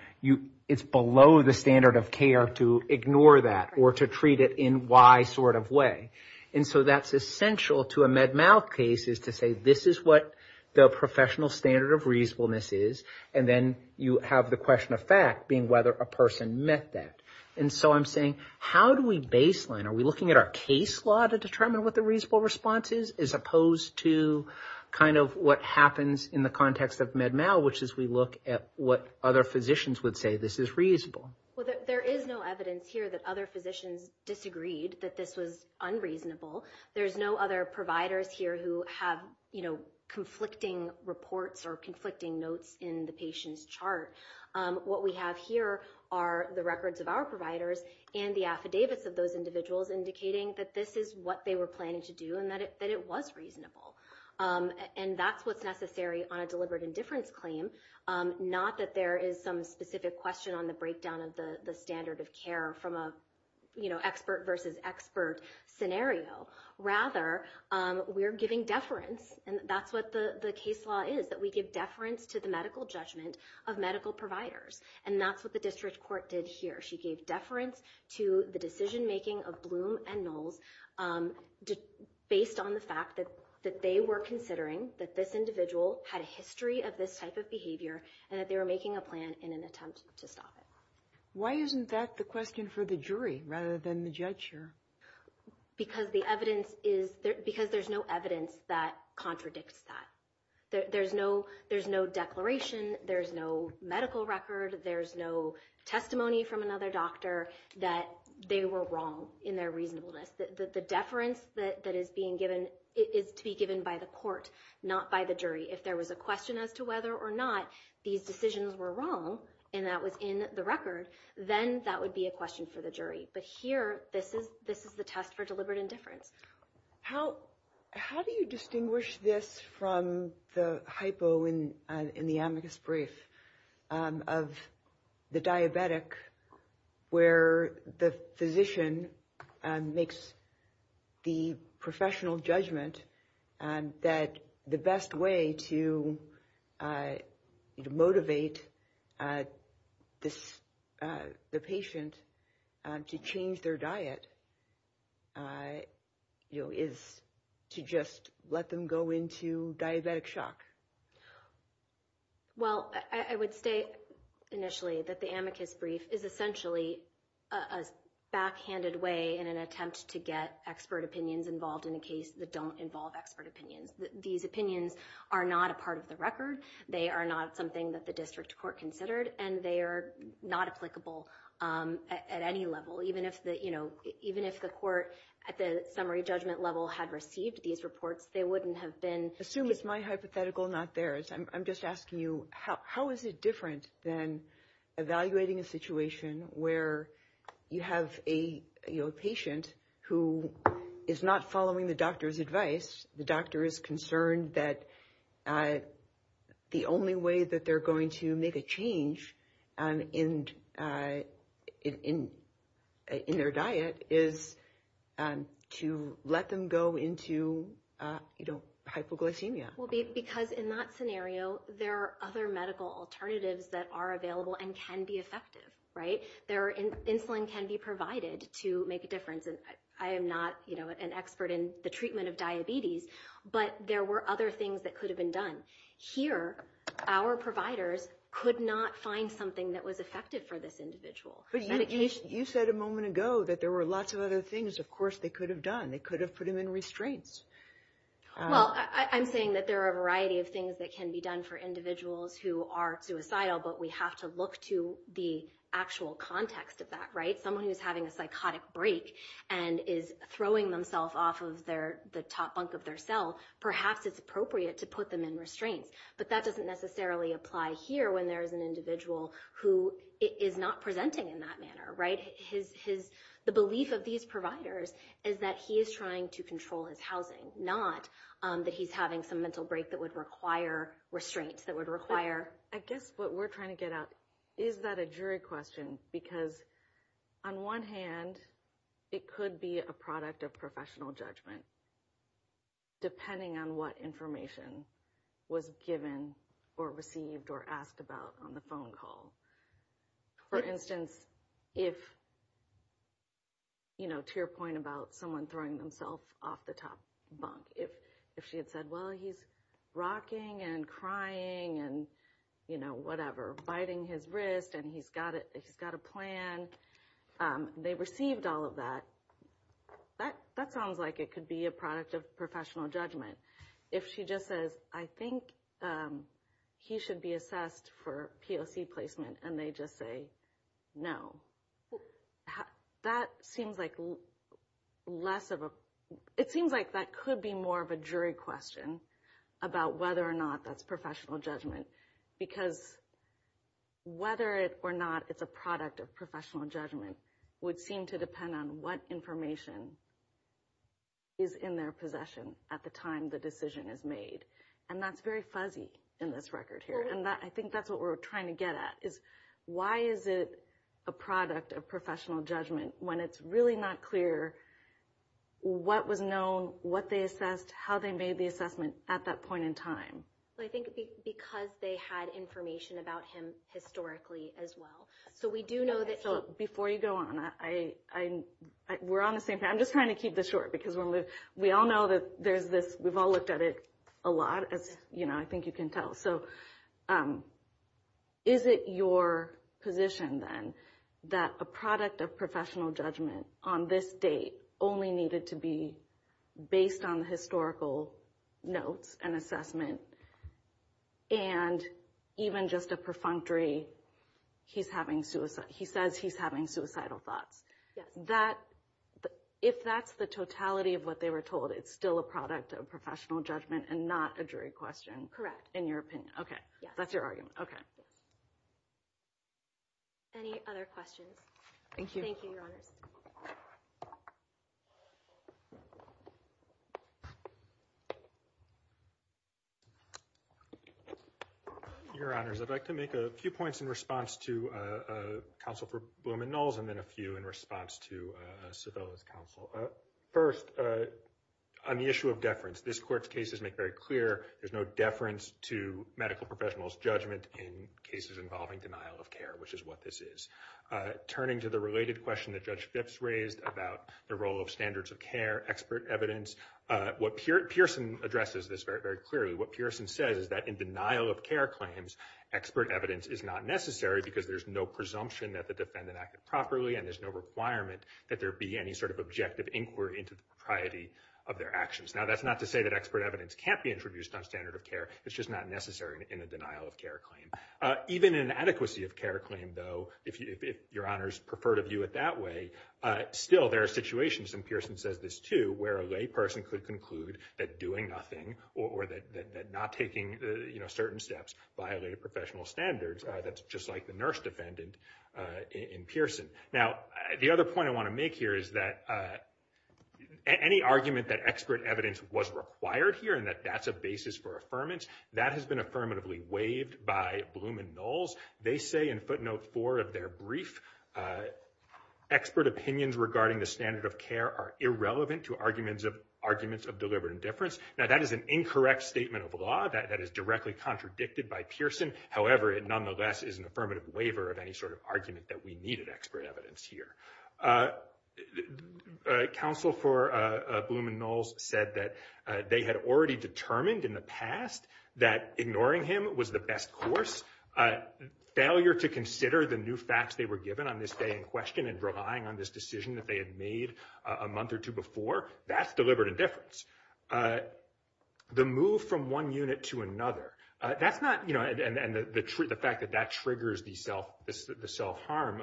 it's below the standard of care to ignore that, or to treat it in Y sort of way. And so that's essential to a Med-Mal case, is to say this is what the professional standard of reasonableness is, and then you have the question of fact being whether a person met that. And so I'm saying, how do we baseline? Are we looking at our case law to determine what the reasonable response is, as opposed to kind of what happens in the context of Med-Mal, which is we look at what other physicians would say this is reasonable? Well, there is no evidence here that other physicians disagreed that this was unreasonable. There's no other providers here who have, you know, the patient's chart. What we have here are the records of our providers and the affidavits of those individuals indicating that this is what they were planning to do, and that it was reasonable. And that's what's necessary on a deliberate indifference claim, not that there is some specific question on the breakdown of the standard of care from a, you know, expert versus expert scenario. Rather, we're giving deference, and that's what the case law is, that we give deference to the medical judgment of medical providers. And that's what the district court did here. She gave deference to the decision-making of Bloom and Knowles, based on the fact that they were considering that this individual had a history of this type of behavior, and that they were making a plan in an attempt to stop it. Why isn't that the question for the jury, rather than the judge here? Because the evidence is, because there's no evidence that contradicts that. There's no declaration. There's no medical record. There's no testimony from another doctor that they were wrong in their reasonableness. The deference that is being given is to be given by the court, not by the jury. If there was a question as to whether or not these decisions were wrong, and that was in the record, then that would be a question for the jury. But here, this is the test for deliberate indifference. How do you distinguish this from the hypo in the amicus brief of the diabetic, where the physician makes the professional judgment that the best way to motivate the patient to change their diet is to just let them go into diabetic shock? Well, I would say initially that the amicus brief is essentially a backhanded way in an attempt to get expert opinions involved in a case that don't involve expert opinions. These opinions are not a record. They are not something that the district court considered, and they are not applicable at any level. Even if the court at the summary judgment level had received these reports, they wouldn't have been- Assume it's my hypothetical, not theirs. I'm just asking you, how is it different than evaluating a situation where you have a patient who is not following the doctor's advice? The doctor is concerned that the only way that they're going to make a change in their diet is to let them go into hypoglycemia. Well, because in that scenario, there are other medical alternatives that are and can be effective, right? Their insulin can be provided to make a difference. I am not an expert in the treatment of diabetes, but there were other things that could have been done. Here, our providers could not find something that was effective for this individual. You said a moment ago that there were lots of other things, of course, they could have done. They could have put him in restraints. Well, I'm saying that there are a variety of things that can be done for individuals who are suicidal, but we have to look to the actual context of that, right? Someone who is having a psychotic break and is throwing themselves off of the top bunk of their cell, perhaps it's appropriate to put them in restraints, but that doesn't necessarily apply here when there's an individual who is not presenting in that manner, right? The belief of these providers is that he is trying to control his housing, not that he's having some mental break that would require restraints. I guess what we're trying to get at, is that a jury question? Because on one hand, it could be a product of professional judgment, depending on what information was given or received or asked about on the phone call. For instance, if, you know, to your point about someone throwing themselves off the top bunk, if she had said, well, he's rocking and crying and, you know, whatever, biting his wrist and he's got a plan, they received all of that, that sounds like it could be a product of professional judgment. If she just says, I think he should be assessed for POC placement, and they just say no, that seems like less of a, it seems like that could be more of a jury question about whether or not that's professional judgment. Because whether or not it's a product of professional judgment would seem to depend on what information is in their possession at the time the decision is made. And that's very fuzzy in this record here. And I think that's what we're trying to do, is to get a sense of what is a product of professional judgment when it's really not clear what was known, what they assessed, how they made the assessment at that point in time. So I think because they had information about him historically as well. So we do know that he... So before you go on, I, we're on the same page, I'm just trying to keep this short, because we all know that there's this, we've all looked at it a lot, as, you know, I think you can tell. So is it your position then that a product of professional judgment on this date only needed to be based on historical notes and assessment, and even just a perfunctory, he's having suicide, he says he's having suicidal thoughts. That, if that's the totality of what they were told, it's still a product of professional judgment and not a jury question. Correct. In your opinion. Okay. That's your argument. Okay. Any other questions? Thank you, Your Honor. Your Honors, I'd like to make a few points in response to Counsel for Bloom and Knowles, and then a few in response to Sibylla's counsel. First, on the issue of deference, this Court's cases make very clear there's no deference to medical professionals' judgment in cases involving denial of care, which is what this is. Turning to the related question that Judge Phipps raised about the role of standards of care, expert evidence, what Pearson addresses this very, very clearly, what Pearson says is that in denial of care claims, expert evidence is not necessary, because there's no presumption that the defendant acted properly, and there's no requirement that there be any sort of objective inquiry into the propriety of their actions. Now, that's not to say that expert evidence can't be introduced on standard of care. It's just not necessary in a denial of care claim. Even in an adequacy of care claim, though, if Your Honors prefer to view it that way, still there are situations, and Pearson says this too, where a lay person could conclude that doing nothing or that not taking certain steps violated professional standards. That's just like the nurse defendant in Pearson. Now, the other point I want to make here is that any argument that expert evidence was required here and that that's a basis for affirmance, that has been affirmatively waived by Bloom and Knowles. They say in footnote four of their brief, expert opinions regarding the standard of care are irrelevant to arguments of deliberate indifference. Now, that is an incorrect statement of law that is directly contradicted by Pearson. However, it nonetheless is an affirmative waiver of any sort of argument that we needed expert evidence here. Counsel for Bloom and Knowles said that they had already determined in the past that ignoring him was the best course. Failure to consider the new facts they were given on this day in question and relying on this decision that they had made a month or two before, that's deliberate indifference. The move from one unit to another, that's not – and the fact that that triggers the self-harm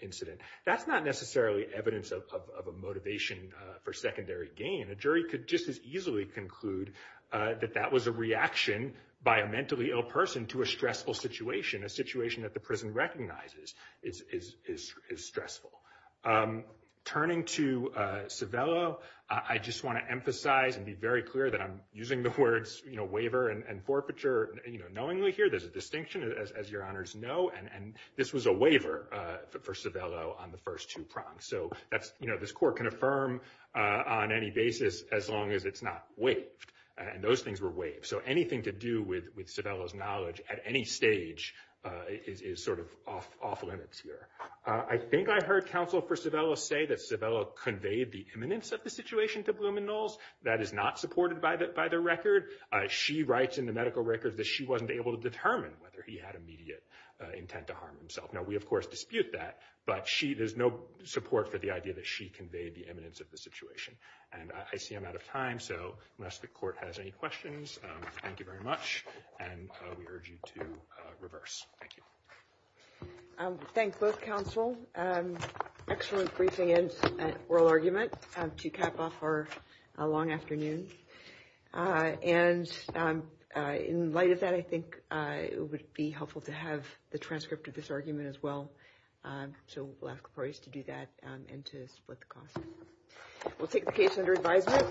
incident, that's not necessarily evidence of a motivation for secondary gain. A jury could just as easily conclude that that was a reaction by a mentally ill person to a stressful situation, a situation that the prison recognizes is stressful. Turning to Civello, I just want to emphasize and be very clear that I'm using the words, you know, waiver and forfeiture, you know, knowingly here, there's a distinction, as your honors know, and this was a waiver for Civello on the first two prompts. So that's, you know, this court can affirm on any basis as long as it's not waived. And those things were waived. So anything to do with Civello's knowledge at any stage is sort of off limits here. I think I heard counsel for Civello say that Civello conveyed the imminence of the situation to Bloom and Knowles. That is not supported by the record. She writes in the medical record that she wasn't able to determine whether he had immediate intent to harm himself. Now, we of course dispute that, but she, there's no support for the idea that she conveyed the imminence of the situation. And I see I'm out of time. So unless the court has any questions, thank you very much. And we urge you to reverse. Thank you. Thank both counsel. Excellent briefing and oral argument to cap off our long afternoon. And in light of that, I think it would be helpful to have the transcript of this argument as well. So we'll ask for us to do that and to split the cost. We'll take the case under advisement. Good afternoon.